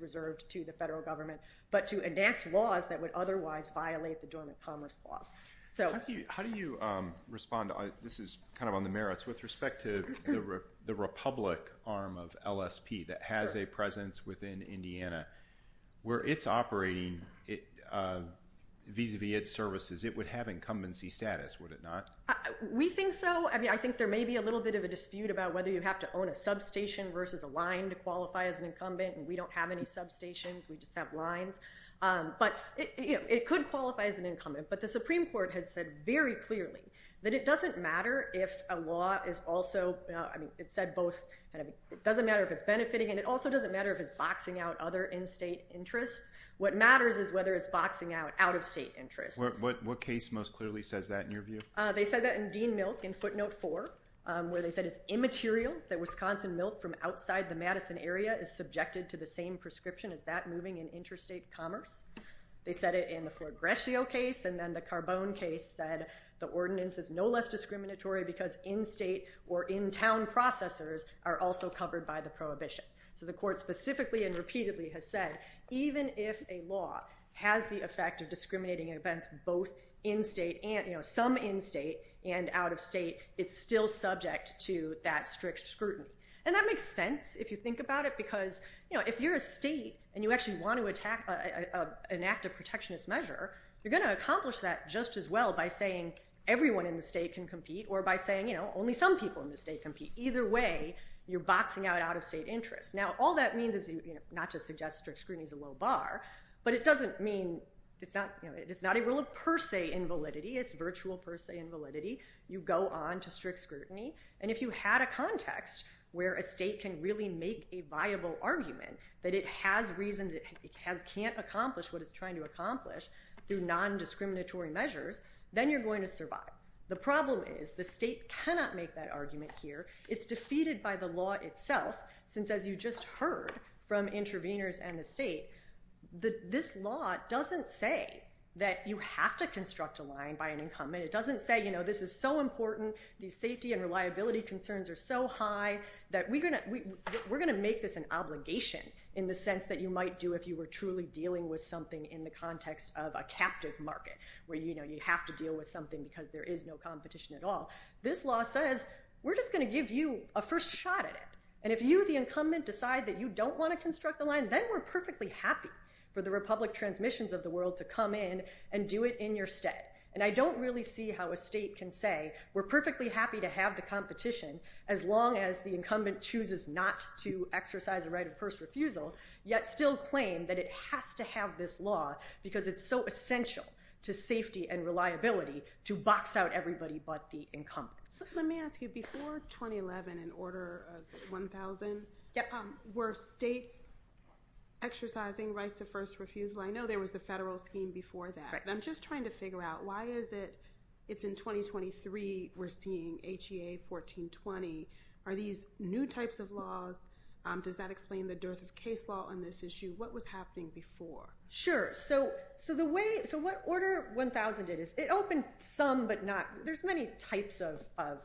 reserved to the federal government, but to advance laws that would otherwise violate the Dormant Commerce Clause. How do you respond? This is kind of on the merits. With respect to the Republic arm of LSP that has a presence within Indiana, where it's operating vis-à-vis its services, it would have incumbency status, would it not? We think so. I mean, I think there may be a little bit of a dispute about whether you have to own a substation versus a line to qualify as an incumbent, and we don't have any substations. We just have lines. But it could qualify as an incumbent. But the Supreme Court has said very clearly that it doesn't matter if a law is also – I mean, it said both – it doesn't matter if it's benefiting and it also doesn't matter if it's boxing out other in-state interests. What matters is whether it's boxing out out-of-state interests. What case most clearly says that in your view? They said that in Dean-Milk in footnote 4, where they said it's immaterial that Wisconsin milk from outside the Madison area is subjected to the same prescription as that moving in interstate commerce. They said it in the Fort Grecio case, and then the Carbone case said the ordinance is no less discriminatory because in-state or in-town processors are also covered by the prohibition. So the court specifically and repeatedly has said even if a law has the effect of discriminating against both in-state and – you know, some in-state and out-of-state, it's still subject to that strict scrutiny. And that makes sense if you think about it because, you know, if you're a state and you actually want to attack an act of protectionist measure, you're going to accomplish that just as well by saying everyone in the state can compete or by saying, you know, only some people in the state compete. Either way, you're boxing out out-of-state interests. Now, all that means is not to suggest strict scrutiny is a low bar, but it doesn't mean – it's not a rule of per se invalidity. It's virtual per se invalidity. You go on to strict scrutiny. And if you had a context where a state can really make a viable argument that it has reasons it can't accomplish what it's trying to accomplish through nondiscriminatory measures, then you're going to survive. The problem is the state cannot make that argument here. It's defeated by the law itself since, as you just heard from interveners and the state, this law doesn't say that you have to construct a line by an incumbent. And it doesn't say, you know, this is so important. These safety and reliability concerns are so high that we're going to make this an obligation in the sense that you might do if you were truly dealing with something in the context of a captive market where, you know, you have to deal with something because there is no competition at all. This law says we're just going to give you a first shot at it. And if you, the incumbent, decide that you don't want to construct a line, then we're perfectly happy for the republic transmissions of the world to come in and do it in your state. And I don't really see how a state can say we're perfectly happy to have the competition as long as the incumbent chooses not to exercise the right of first refusal, yet still claim that it has to have this law because it's so essential to safety and reliability to box out everybody but the incumbent. Let me ask you, before 2011, in order of 1,000, were states exercising rights of first refusal? I know there was a federal scheme before that. I'm just trying to figure out why is it it's in 2023 we're seeing HEA 1420. Are these new types of laws? Does that explain the dearth of case law on this issue? What was happening before? Sure. So the way, so what order 1,000 is, it opens some but not, there's many types of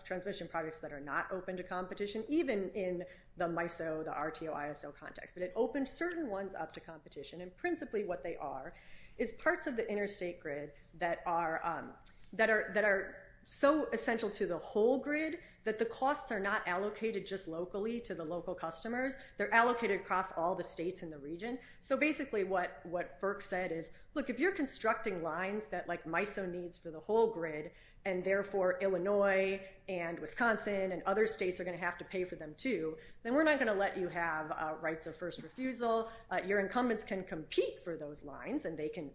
transmission products that are not open to competition, even in the MISO, the RTO, ISO context. It opens certain ones up to competition. And principally what they are is parts of the interstate grid that are so essential to the whole grid that the costs are not allocated just locally to the local customers. They're allocated across all the states in the region. So basically what FERC said is, look, if you're constructing lines that MISO needs for the whole grid and therefore Illinois and Wisconsin and other states are going to have to pay for them too, then we're not going to let you have rights of first refusal. Your incumbents can compete for those lines, and they can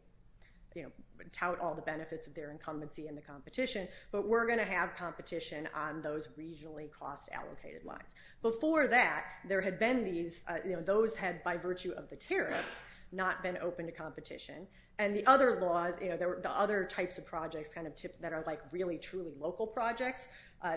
tout all the benefits of their incumbency in the competition, but we're going to have competition on those regionally cost allocated lines. Before that, there had been these, those had, by virtue of the tariff, not been open to competition. And the other laws, the other types of projects that are really truly local projects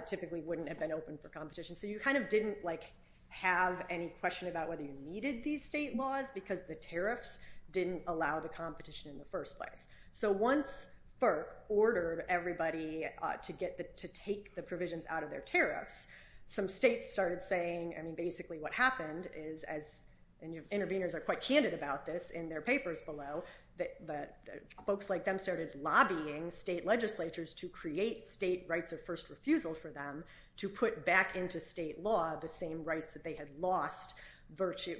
typically wouldn't have been open for competition. So you kind of didn't like have any question about whether you needed these state laws because the tariffs didn't allow the competition in the first place. So once FERC ordered everybody to get the, to take the provisions out of their tariffs, some states started saying, I mean, basically what happened is, as interveners are quite candid about this in their papers below, that folks like them started lobbying state legislatures to create state rights of first refusal for them to put back into state law the same rights that they had lost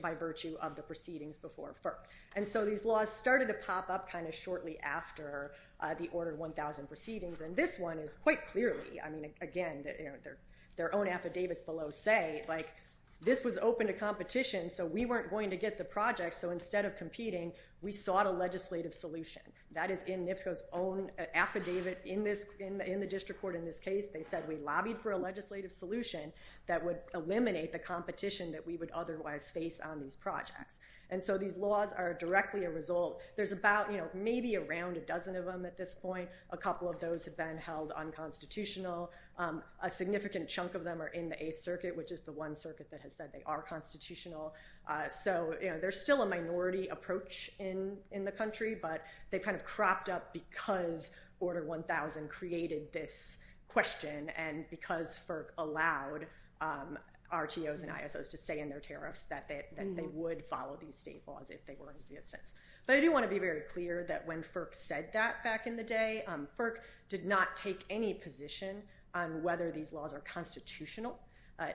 by virtue of the proceedings before FERC. And so these laws started to pop up kind of shortly after the Order 1000 proceedings, and this one is quite clearly, I mean, again, their own affidavits below say, like, this was open to competition, so we weren't going to get the project, so instead of competing, we sought a legislative solution. That is in NIFA's own affidavit in the district court in this case. They said we lobbied for a legislative solution that would eliminate the competition that we would otherwise face on these projects. And so these laws are directly a result. There's about, you know, maybe around a dozen of them at this point. A couple of those have been held unconstitutional. A significant chunk of them are in the Eighth Circuit, which is the one circuit that has said they are constitutional. So, you know, there's still a minority approach in the country, but they kind of cropped up because Order 1000 created this question and because FERC allowed RTOs and ISOs to stay in their tariffs that they would follow these state laws if they were in existence. But I do want to be very clear that when FERC said that back in the day, FERC did not take any position on whether these laws are constitutional.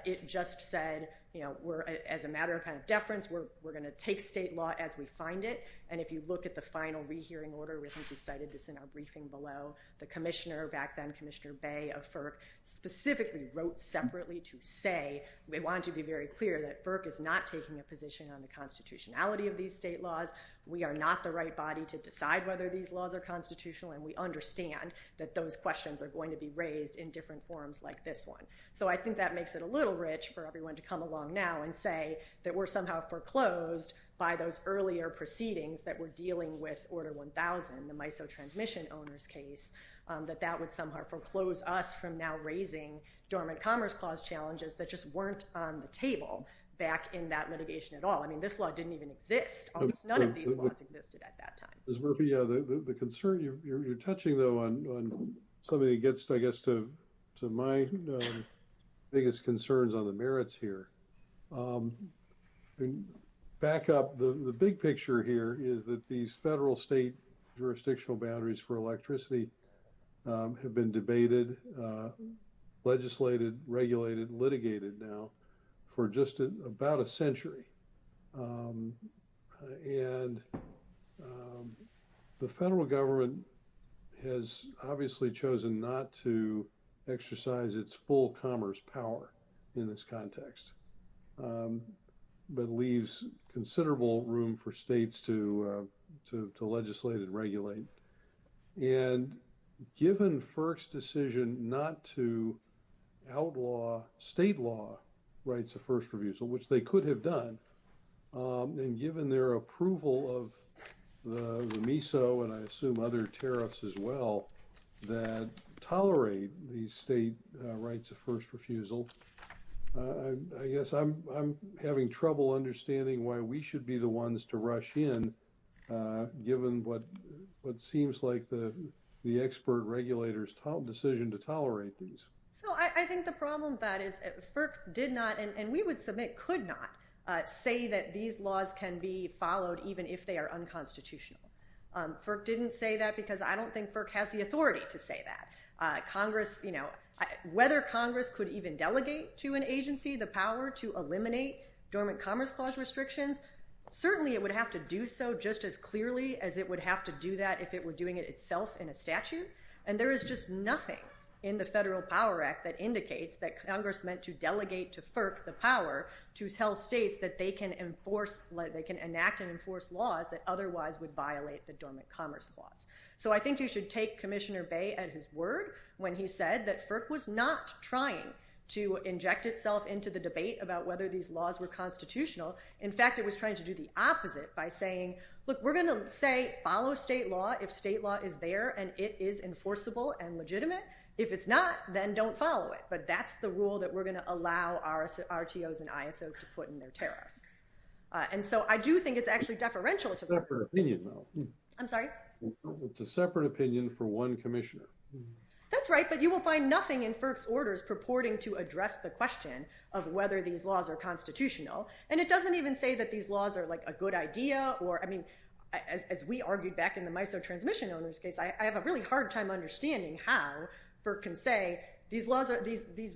It just said, you know, as a matter of kind of deference, we're going to take state law as we find it, and if you look at the final rehearing order, which is cited in our briefing below, the commissioner back then, Commissioner Bay of FERC, specifically wrote separately to say, they wanted to be very clear that FERC is not taking a position on the constitutionality of these state laws. We are not the right body to decide whether these laws are constitutional, and we understand that those questions are going to be raised in different forums like this one. So I think that makes it a little rich for everyone to come along now and say that we're somehow foreclosed by those earlier proceedings that were dealing with Order 1000, the MISO transmission owners case, that that would somehow foreclose us from now raising dormant commerce clause challenges that just weren't on the table back in that litigation at all. I mean, this law didn't even exist. Almost none of these laws existed at that time. Ms. Murphy, the concern you're touching, though, on something that gets, I guess, to my biggest concerns on the merits here. Back up. The big picture here is that these federal-state jurisdictional boundaries for electricity have been debated, legislated, regulated, litigated now for just about a century. And the federal government has obviously chosen not to exercise its full commerce power in this context but leaves considerable room for states to legislate and regulate. And given FERC's decision not to outlaw state law rights of first reviews, which they could have done, and given their approval of the MISO and I assume other tariffs as well that tolerate these state rights of first refusal, I guess I'm having trouble understanding why we should be the ones to rush in, given what seems like the expert regulator's decision to tolerate these. Well, I think the problem is that FERC did not, and we would submit could not, say that these laws can be followed even if they are unconstitutional. FERC didn't say that because I don't think FERC has the authority to say that. Congress, you know, whether Congress could even delegate to an agency the power to eliminate government commerce clause restrictions, certainly it would have to do so just as clearly as it would have to do that if it were doing it itself in a statute. And there is just nothing in the Federal Power Act that indicates that Congress meant to delegate to FERC the power to tell states that they can enact and enforce laws that otherwise would violate the government commerce clause. So I think you should take Commissioner Baye at his word when he said that FERC was not trying to inject itself into the debate about whether these laws were constitutional. In fact, it was trying to do the opposite by saying, look, we're going to say follow state law if state law is there and it is enforceable and legitimate. If it's not, then don't follow it. But that's the rule that we're going to allow our RTOs and ISOs to put in their tariff. And so I do think it's actually deferential. It's a separate opinion, though. I'm sorry? It's a separate opinion for one commissioner. That's right, but you will find nothing in FERC's orders purporting to address the question of whether these laws are constitutional. And it doesn't even say that these laws are like a good idea or, I mean, as we argued back in the MISO transmission on this case, I have a really hard time understanding how FERC can say these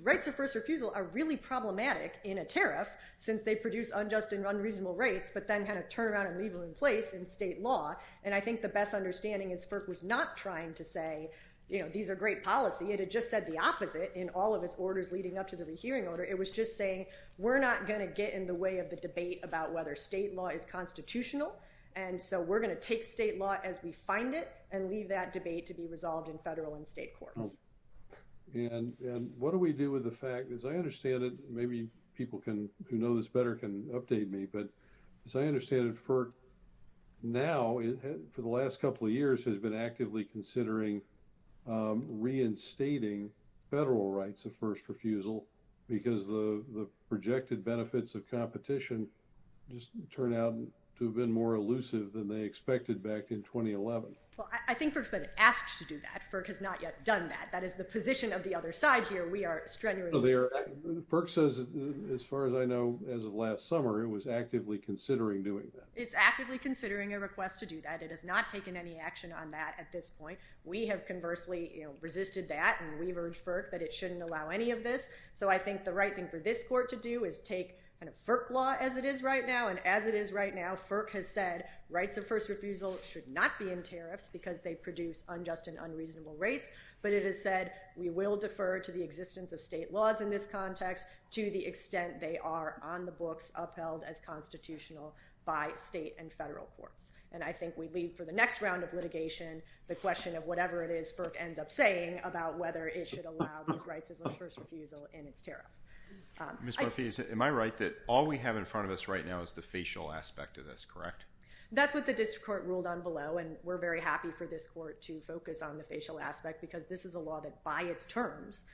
rights of first refusal are really problematic in a tariff since they produce unjust and unreasonable rates, but then have a turnaround and leave them in place in state law. And I think the best understanding is FERC was not trying to say, you know, these are great policy. It had just said the opposite in all of its orders leading up to the rehearing order. It was just saying we're not going to get in the way of the debate about whether state law is constitutional, and so we're going to take state law as we find it and leave that debate to be resolved in federal and state courts. And what do we do with the fact, as I understand it, maybe people who know this better can update me, but as I understand it, FERC now, for the last couple of years, has been actively considering reinstating federal rights of first refusal because the projected benefits of that have been more elusive than they expected back in 2011. Well, I think FERC has been asked to do that. FERC has not yet done that. That is the position of the other side here. We are struggling with that. FERC says, as far as I know, as of last summer, it was actively considering doing that. It's actively considering a request to do that. It has not taken any action on that at this point. We have conversely resisted that, and we've urged FERC that it shouldn't allow any of this. So I think the right thing for this court to do is take kind of FERC law as it is right now and as it is right now, FERC has said rights of first refusal should not be in tariffs because they produce unjust and unreasonable rates. But it has said we will defer to the existence of state laws in this context to the extent they are on the books upheld as constitutional by state and federal court. And I think we leave for the next round of litigation the question of whatever it is FERC ends up saying about whether it should allow these rights of first refusal in its tariffs. Am I right that all we have in front of us right now is the facial aspect of this, correct? That's what the district court ruled on below, and we're very happy for this court to focus on the facial aspect because this is a law that by its terms,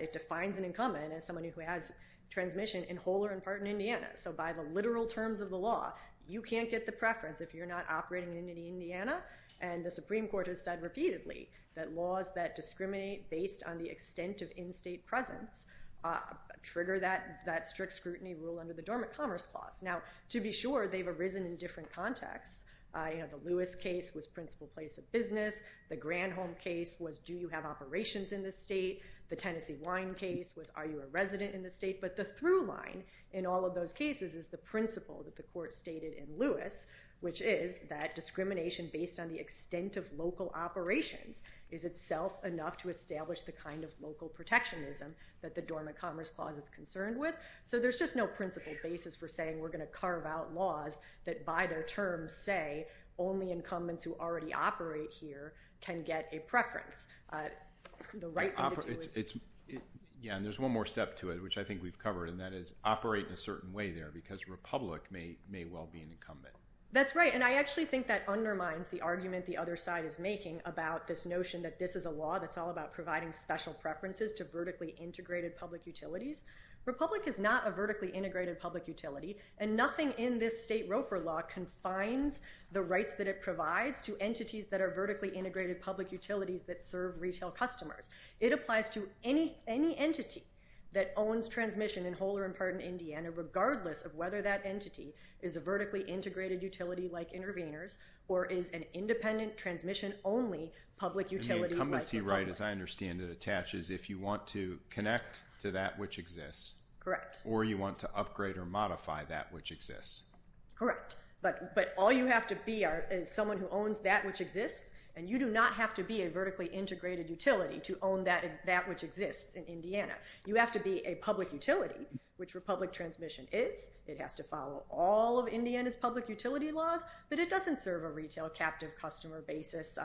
it defines an incumbent as someone who has transmission in whole or in part in Indiana. So by the literal terms of the law, you can't get the preference if you're not operating in Indiana. And the Supreme Court has said repeatedly that laws that discriminate based on the extent of in-state presence trigger that strict scrutiny rule under the Dormant Commerce Clause. Now, to be sure, they've arisen in different contexts. I have a Lewis case with principal place of business. The Granholm case was do you have operations in the state? The Tennessee Wine case was are you a resident in the state? But the through line in all of those cases is the principle that the court stated in Lewis, which is that discrimination based on the extent of local operations is itself enough to establish the kind of local protectionism that the Dormant Commerce Clause is concerned with. So there's just no principle basis for saying we're going to carve out laws that by their terms say only incumbents who already operate here can get a preference. Yeah, and there's one more step to it, which I think we've covered, and that is operate in a certain way there because Republic may well be an incumbent. That's right, and I actually think that undermines the argument the other side is making about this notion that this is a law that's all about providing special preferences to vertically integrated public utilities. Republic is not a vertically integrated public utility, and nothing in this state roper law confines the rights that it provides to entities that are vertically integrated public utilities that serve retail customers. It applies to any entity that owns transmission in Holer and Pardon, Indiana, regardless of whether that entity is a vertically integrated utility like Intervenors or is an independent transmission only public utility. The incumbent's right, as I understand it, attaches if you want to connect to that which exists. Or you want to upgrade or modify that which exists. Correct, but all you have to be is someone who owns that which exists, and you do not have to be a vertically integrated utility to own that which exists in Indiana. You have to be a public utility, which Republic Transmission is. They'd have to follow all of Indiana's public utility laws, but it doesn't serve a retail captive customer basis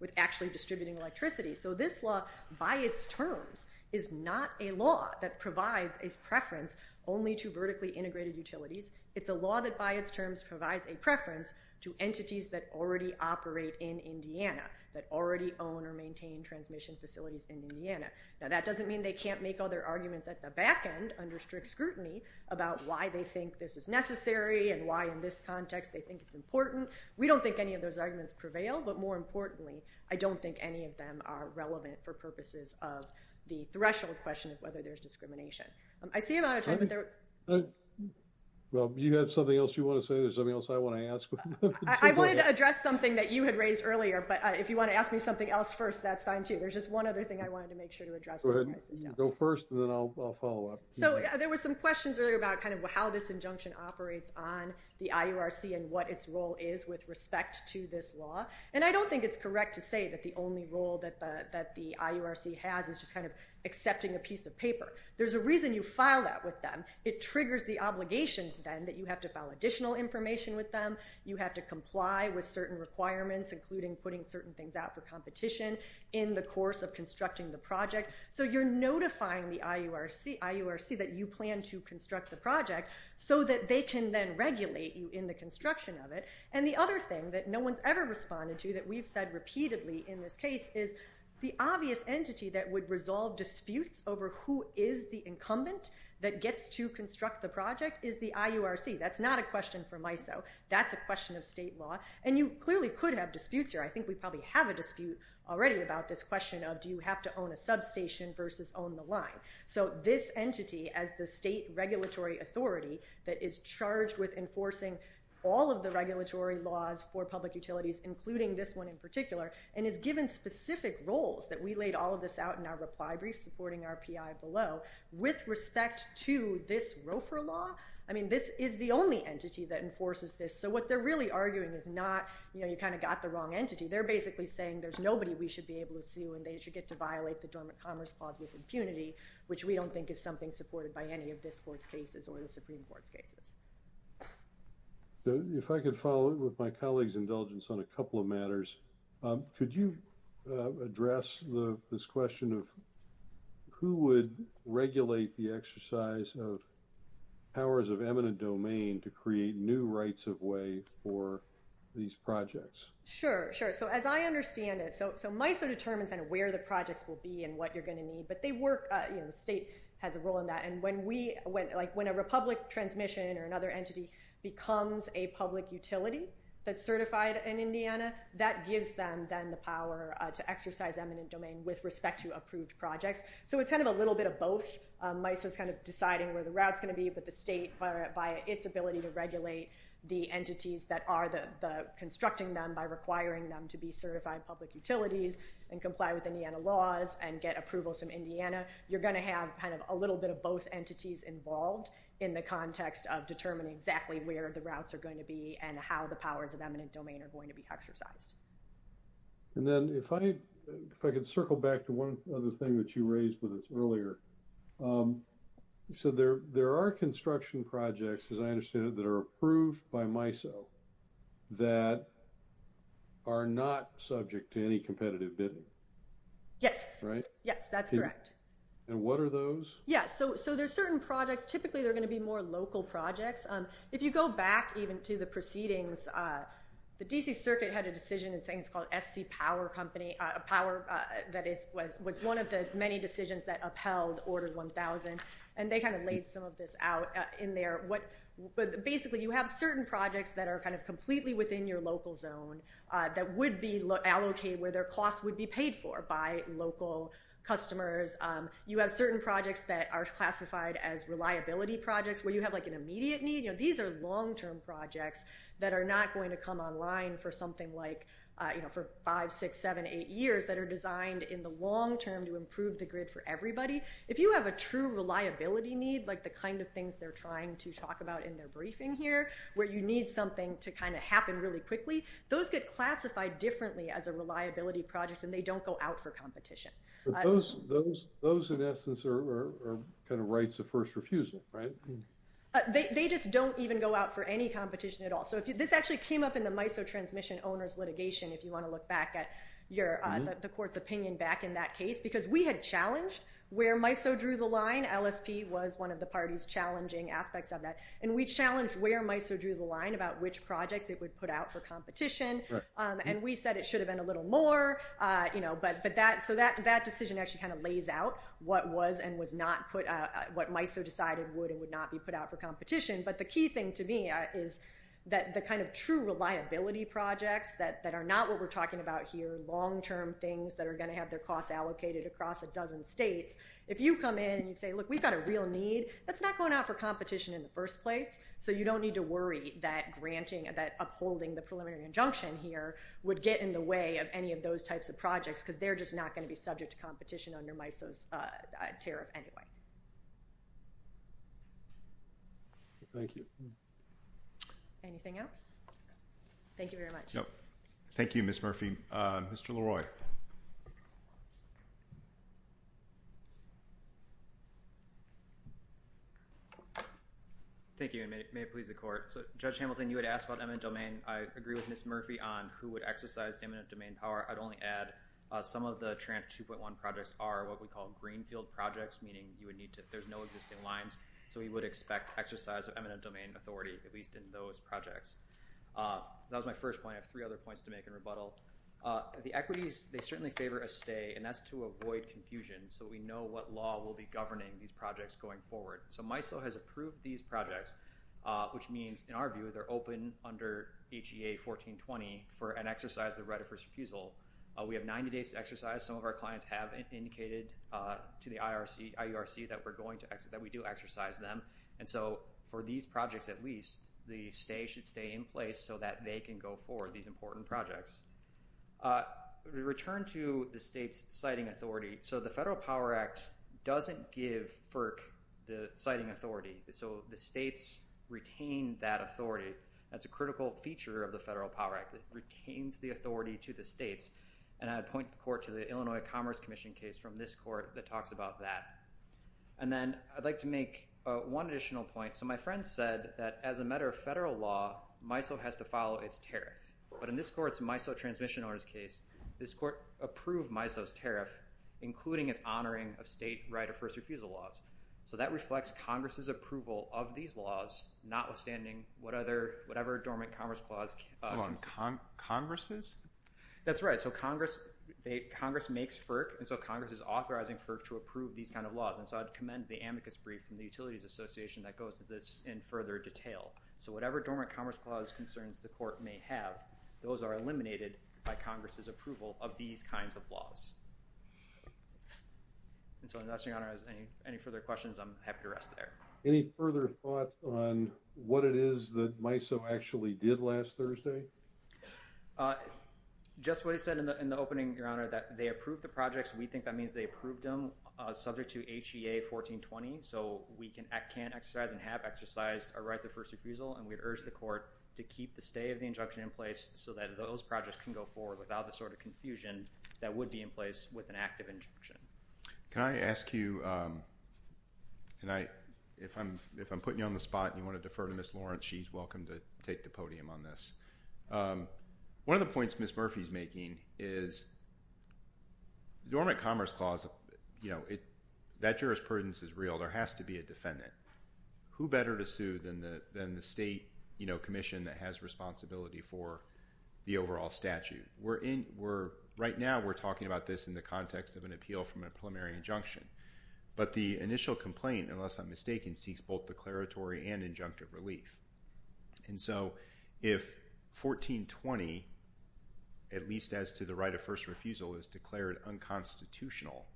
with actually distributing electricity. So this law, by its terms, is not a law that provides a preference only to vertically integrated utilities. It's a law that, by its terms, provides a preference to entities that already operate in Indiana, that already own or maintain transmission facilities in Indiana. Now, that doesn't mean they can't make other arguments at the back end under strict scrutiny about why they think this is necessary and why, in this context, they think it's important. We don't think any of those arguments prevail, but more importantly, I don't think any of them are relevant for purposes of the threshold question of whether there's discrimination. I see a lot of times there are... Well, do you have something else you want to say or something else I want to ask? I wanted to address something that you had raised earlier, but if you want to ask me something else first, that's fine too. There's just one other thing I wanted to make sure to address. Go ahead. Go first, and then I'll follow up. So there were some questions earlier about kind of how this injunction operates on the IURC and what its role is with respect to this law, and I don't think it's correct to say that the only role that the IURC has is just kind of accepting a piece of paper. There's a reason you file that with them. It triggers the obligation then that you have to file additional information with them. You have to comply with certain requirements, including putting certain things out for competition in the course of constructing the project. So you're notifying the IURC that you plan to construct the project so that they can then regulate you in the construction of it. And the other thing that no one's ever responded to that we've said repeatedly in this case is the obvious entity that would resolve disputes over who is the incumbent that gets to construct the project is the IURC. That's not a question for MISO. That's a question of state law, and you clearly couldn't have disputes here. I think we probably have a dispute already about this question of do you have to own a substation versus own the line. So this entity as the state regulatory authority that is charged with enforcing all of the regulatory laws for public utilities, including this one in particular, and is given specific roles that we laid all of this out in our reply brief supporting our PI below, with respect to this ROFR law, I mean, this is the only entity that enforces this. So what they're really arguing is not, you know, you kind of got the wrong entity. They're basically saying there's nobody we should be able to sue and they should get to violate the Dormant Commerce Clause with impunity, which we don't think is something supported by any of this Court's cases or the Supreme Court cases. If I could follow up with my colleague's indulgence on a couple of matters, could you address this question of who would regulate the exercise of powers of eminent domain to create new rights of way for these projects? Sure, sure. So as I understand it, so MISO determines kind of where the projects will be and what you're going to need, but they work, you know, the state has a role in that. And when a public transmission or another entity becomes a public utility that's certified in Indiana, that gives them then the power to exercise eminent domain with respect to approved projects. So it's kind of a little bit of both. MISO's kind of deciding where the route's going to be, but the state, by its ability to regulate the entities that are constructing them by requiring them to be certified public utilities and comply with Indiana laws and get approvals from Indiana, you're going to have kind of a little bit of both entities involved in the context of determining exactly where the routes are going to be and how the powers of eminent domain are going to be exercised. And then if I could circle back to one other thing that you raised with us earlier. You said there are construction projects, as I understand it, that are approved by MISO that are not subject to any competitive bidding. Yes. Right? Yes, that's correct. And what are those? Yeah, so there's certain projects, typically they're going to be more local projects. If you go back even to the proceedings, the D.C. Circuit had a decision in things called F.C. Power Company, a power that was one of the many decisions that upheld Order 1000, and they kind of laid some of this out in there. But basically you have certain projects that are kind of completely within your local zone that would be allocated where their cost would be paid for by local customers. You have certain projects that are classified as reliability projects where you have an immediate need. These are long-term projects that are not going to come online for something like five, six, seven, eight years that are designed in the long term to improve the grid for everybody. If you have a true reliability need, like the kind of things they're trying to talk about in their briefing here, where you need something to kind of happen really quickly, those get classified differently as a reliability project and they don't go out for competition. But those in essence are kind of rights of first refusal, right? They just don't even go out for any competition at all. So this actually came up in the MISO transmission owner's litigation, if you want to look back at the court's opinion back in that case, because we had challenged where MISO drew the line. LSP was one of the parties challenging aspects of that. And we challenged where MISO drew the line about which projects it would put out for competition, and we said it should have been a little more. So that decision actually kind of lays out what was and was not put out, what MISO decided would and would not be put out for competition. But the key thing to me is that the kind of true reliability projects that are not what we're talking about here, long-term things that are going to have their costs allocated across a dozen states, if you come in and you say, look, we've got a real need, that's not going out for competition in the first place. So you don't need to worry that granting, that upholding the preliminary injunction here would get in the way of any of those types of projects because they're just not going to be subject to competition under MISO's care anyway. Thank you. Anything else? Thank you very much. Thank you, Ms. Murphy. Mr. Leroy. Thank you, and may it please the Court. So Judge Hamilton, you had asked about eminent domain. I agree with Ms. Murphy on who would exercise eminent domain power. I'd only add some of the TRANF 2.1 projects are what we call greenfield projects, meaning there's no existing lines. So we would expect exercise of eminent domain authority, at least in those projects. That was my first point. I have three other points to make in rebuttal. The equities here, I think it's important to note, they certainly favor a stay, and that's to avoid confusion so we know what law will be governing these projects going forward. So MISO has approved these projects, which means, in our view, they're open under HEA 1420 for an exercise of right of first refusal. We have 90 days to exercise. Some of our clients have indicated to the IERC that we do exercise them. And so for these projects at least, the stay should stay in place so that they can go forward, these important projects. The return to the state's citing authority. So the Federal Power Act doesn't give FERC the citing authority, so the states retain that authority. That's a critical feature of the Federal Power Act. It retains the authority to the states. And I point the court to the Illinois Commerce Commission case from this court that talks about that. And then I'd like to make one additional point. So my friend said that as a matter of federal law, MISO has to follow its tariff. But in this court's MISO transmission orders case, this court approved MISO's tariff, including it honoring a state right of first refusal laws. So that reflects Congress's approval of these laws, notwithstanding whatever dormant commerce clause. Congress's? That's right. So Congress makes FERC, and so Congress is authorizing FERC to approve these kind of laws. And so I'd commend the amicus brief from the Utilities Association that goes to this in further detail. So whatever dormant commerce clause concerns the court may have, those are eliminated by Congress's approval of these kinds of laws. And so unless, Your Honor, there's any further questions, I'm happy to rest there. Any further thoughts on what it is that MISO actually did last Thursday? Just what it said in the opening, Your Honor, that they approved the projects. We think that means they approved them subject to HEA 1420. So we can't exercise and have exercised a right of first refusal, and we urge the court to keep the stay of the injunction in place so that those projects can go forward without the sort of confusion that would be in place with an active injunction. Can I ask you, and if I'm putting you on the spot and you want to defer to Ms. Lawrence, she's welcome to take the podium on this. One of the points Ms. Murphy's making is dormant commerce clause, that jurisprudence is real. There has to be a defendant. Who better to sue than the state commission that has responsibility for the overall statute? Right now we're talking about this in the context of an appeal from a preliminary injunction. But the initial complaint, unless I'm mistaken, sees both declaratory and injunctive relief. And so if 1420, at least as to the right of first refusal, is declared unconstitutional,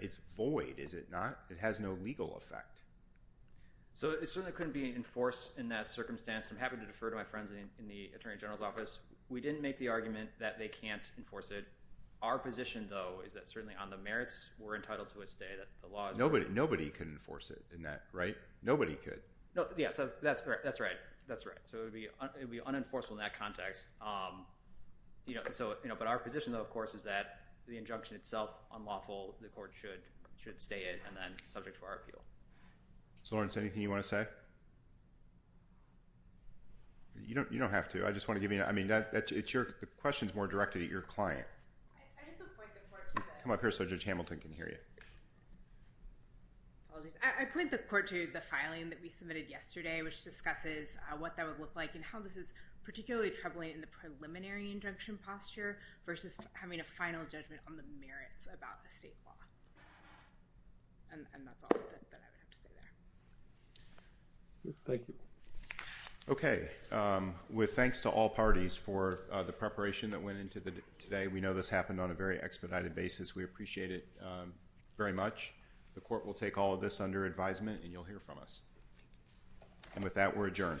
it's void, is it not? It has no legal effect. So it certainly couldn't be enforced in that circumstance. I'm happy to defer to my friends in the attorney general's office. We didn't make the argument that they can't enforce it. Our position, though, is that certainly on the merits, we're entitled to a stay. Nobody can enforce it in that, right? Nobody could. Yes, that's right. That's right. So it would be unenforceable in that context. But our position, though, of course, is that the injunction itself, unlawful. The court should stay it and then subject to our appeal. Lawrence, anything you want to say? You don't have to. I just want to give you, I mean, the question's more directed at your client. Come up here so Judge Hamilton can hear you. I point the court to the filing that we submitted yesterday, which discusses what that would look like and how this is particularly troubling in the preliminary injunction posture versus having a final judgment on the merits about the state law. Thank you. Okay. Thanks to all parties for the preparation that went into today. We know this happened on a very expedited basis. We appreciate it very much. The court will take all of this under advisement, and you'll hear from us. And with that, we're adjourned. Thank you.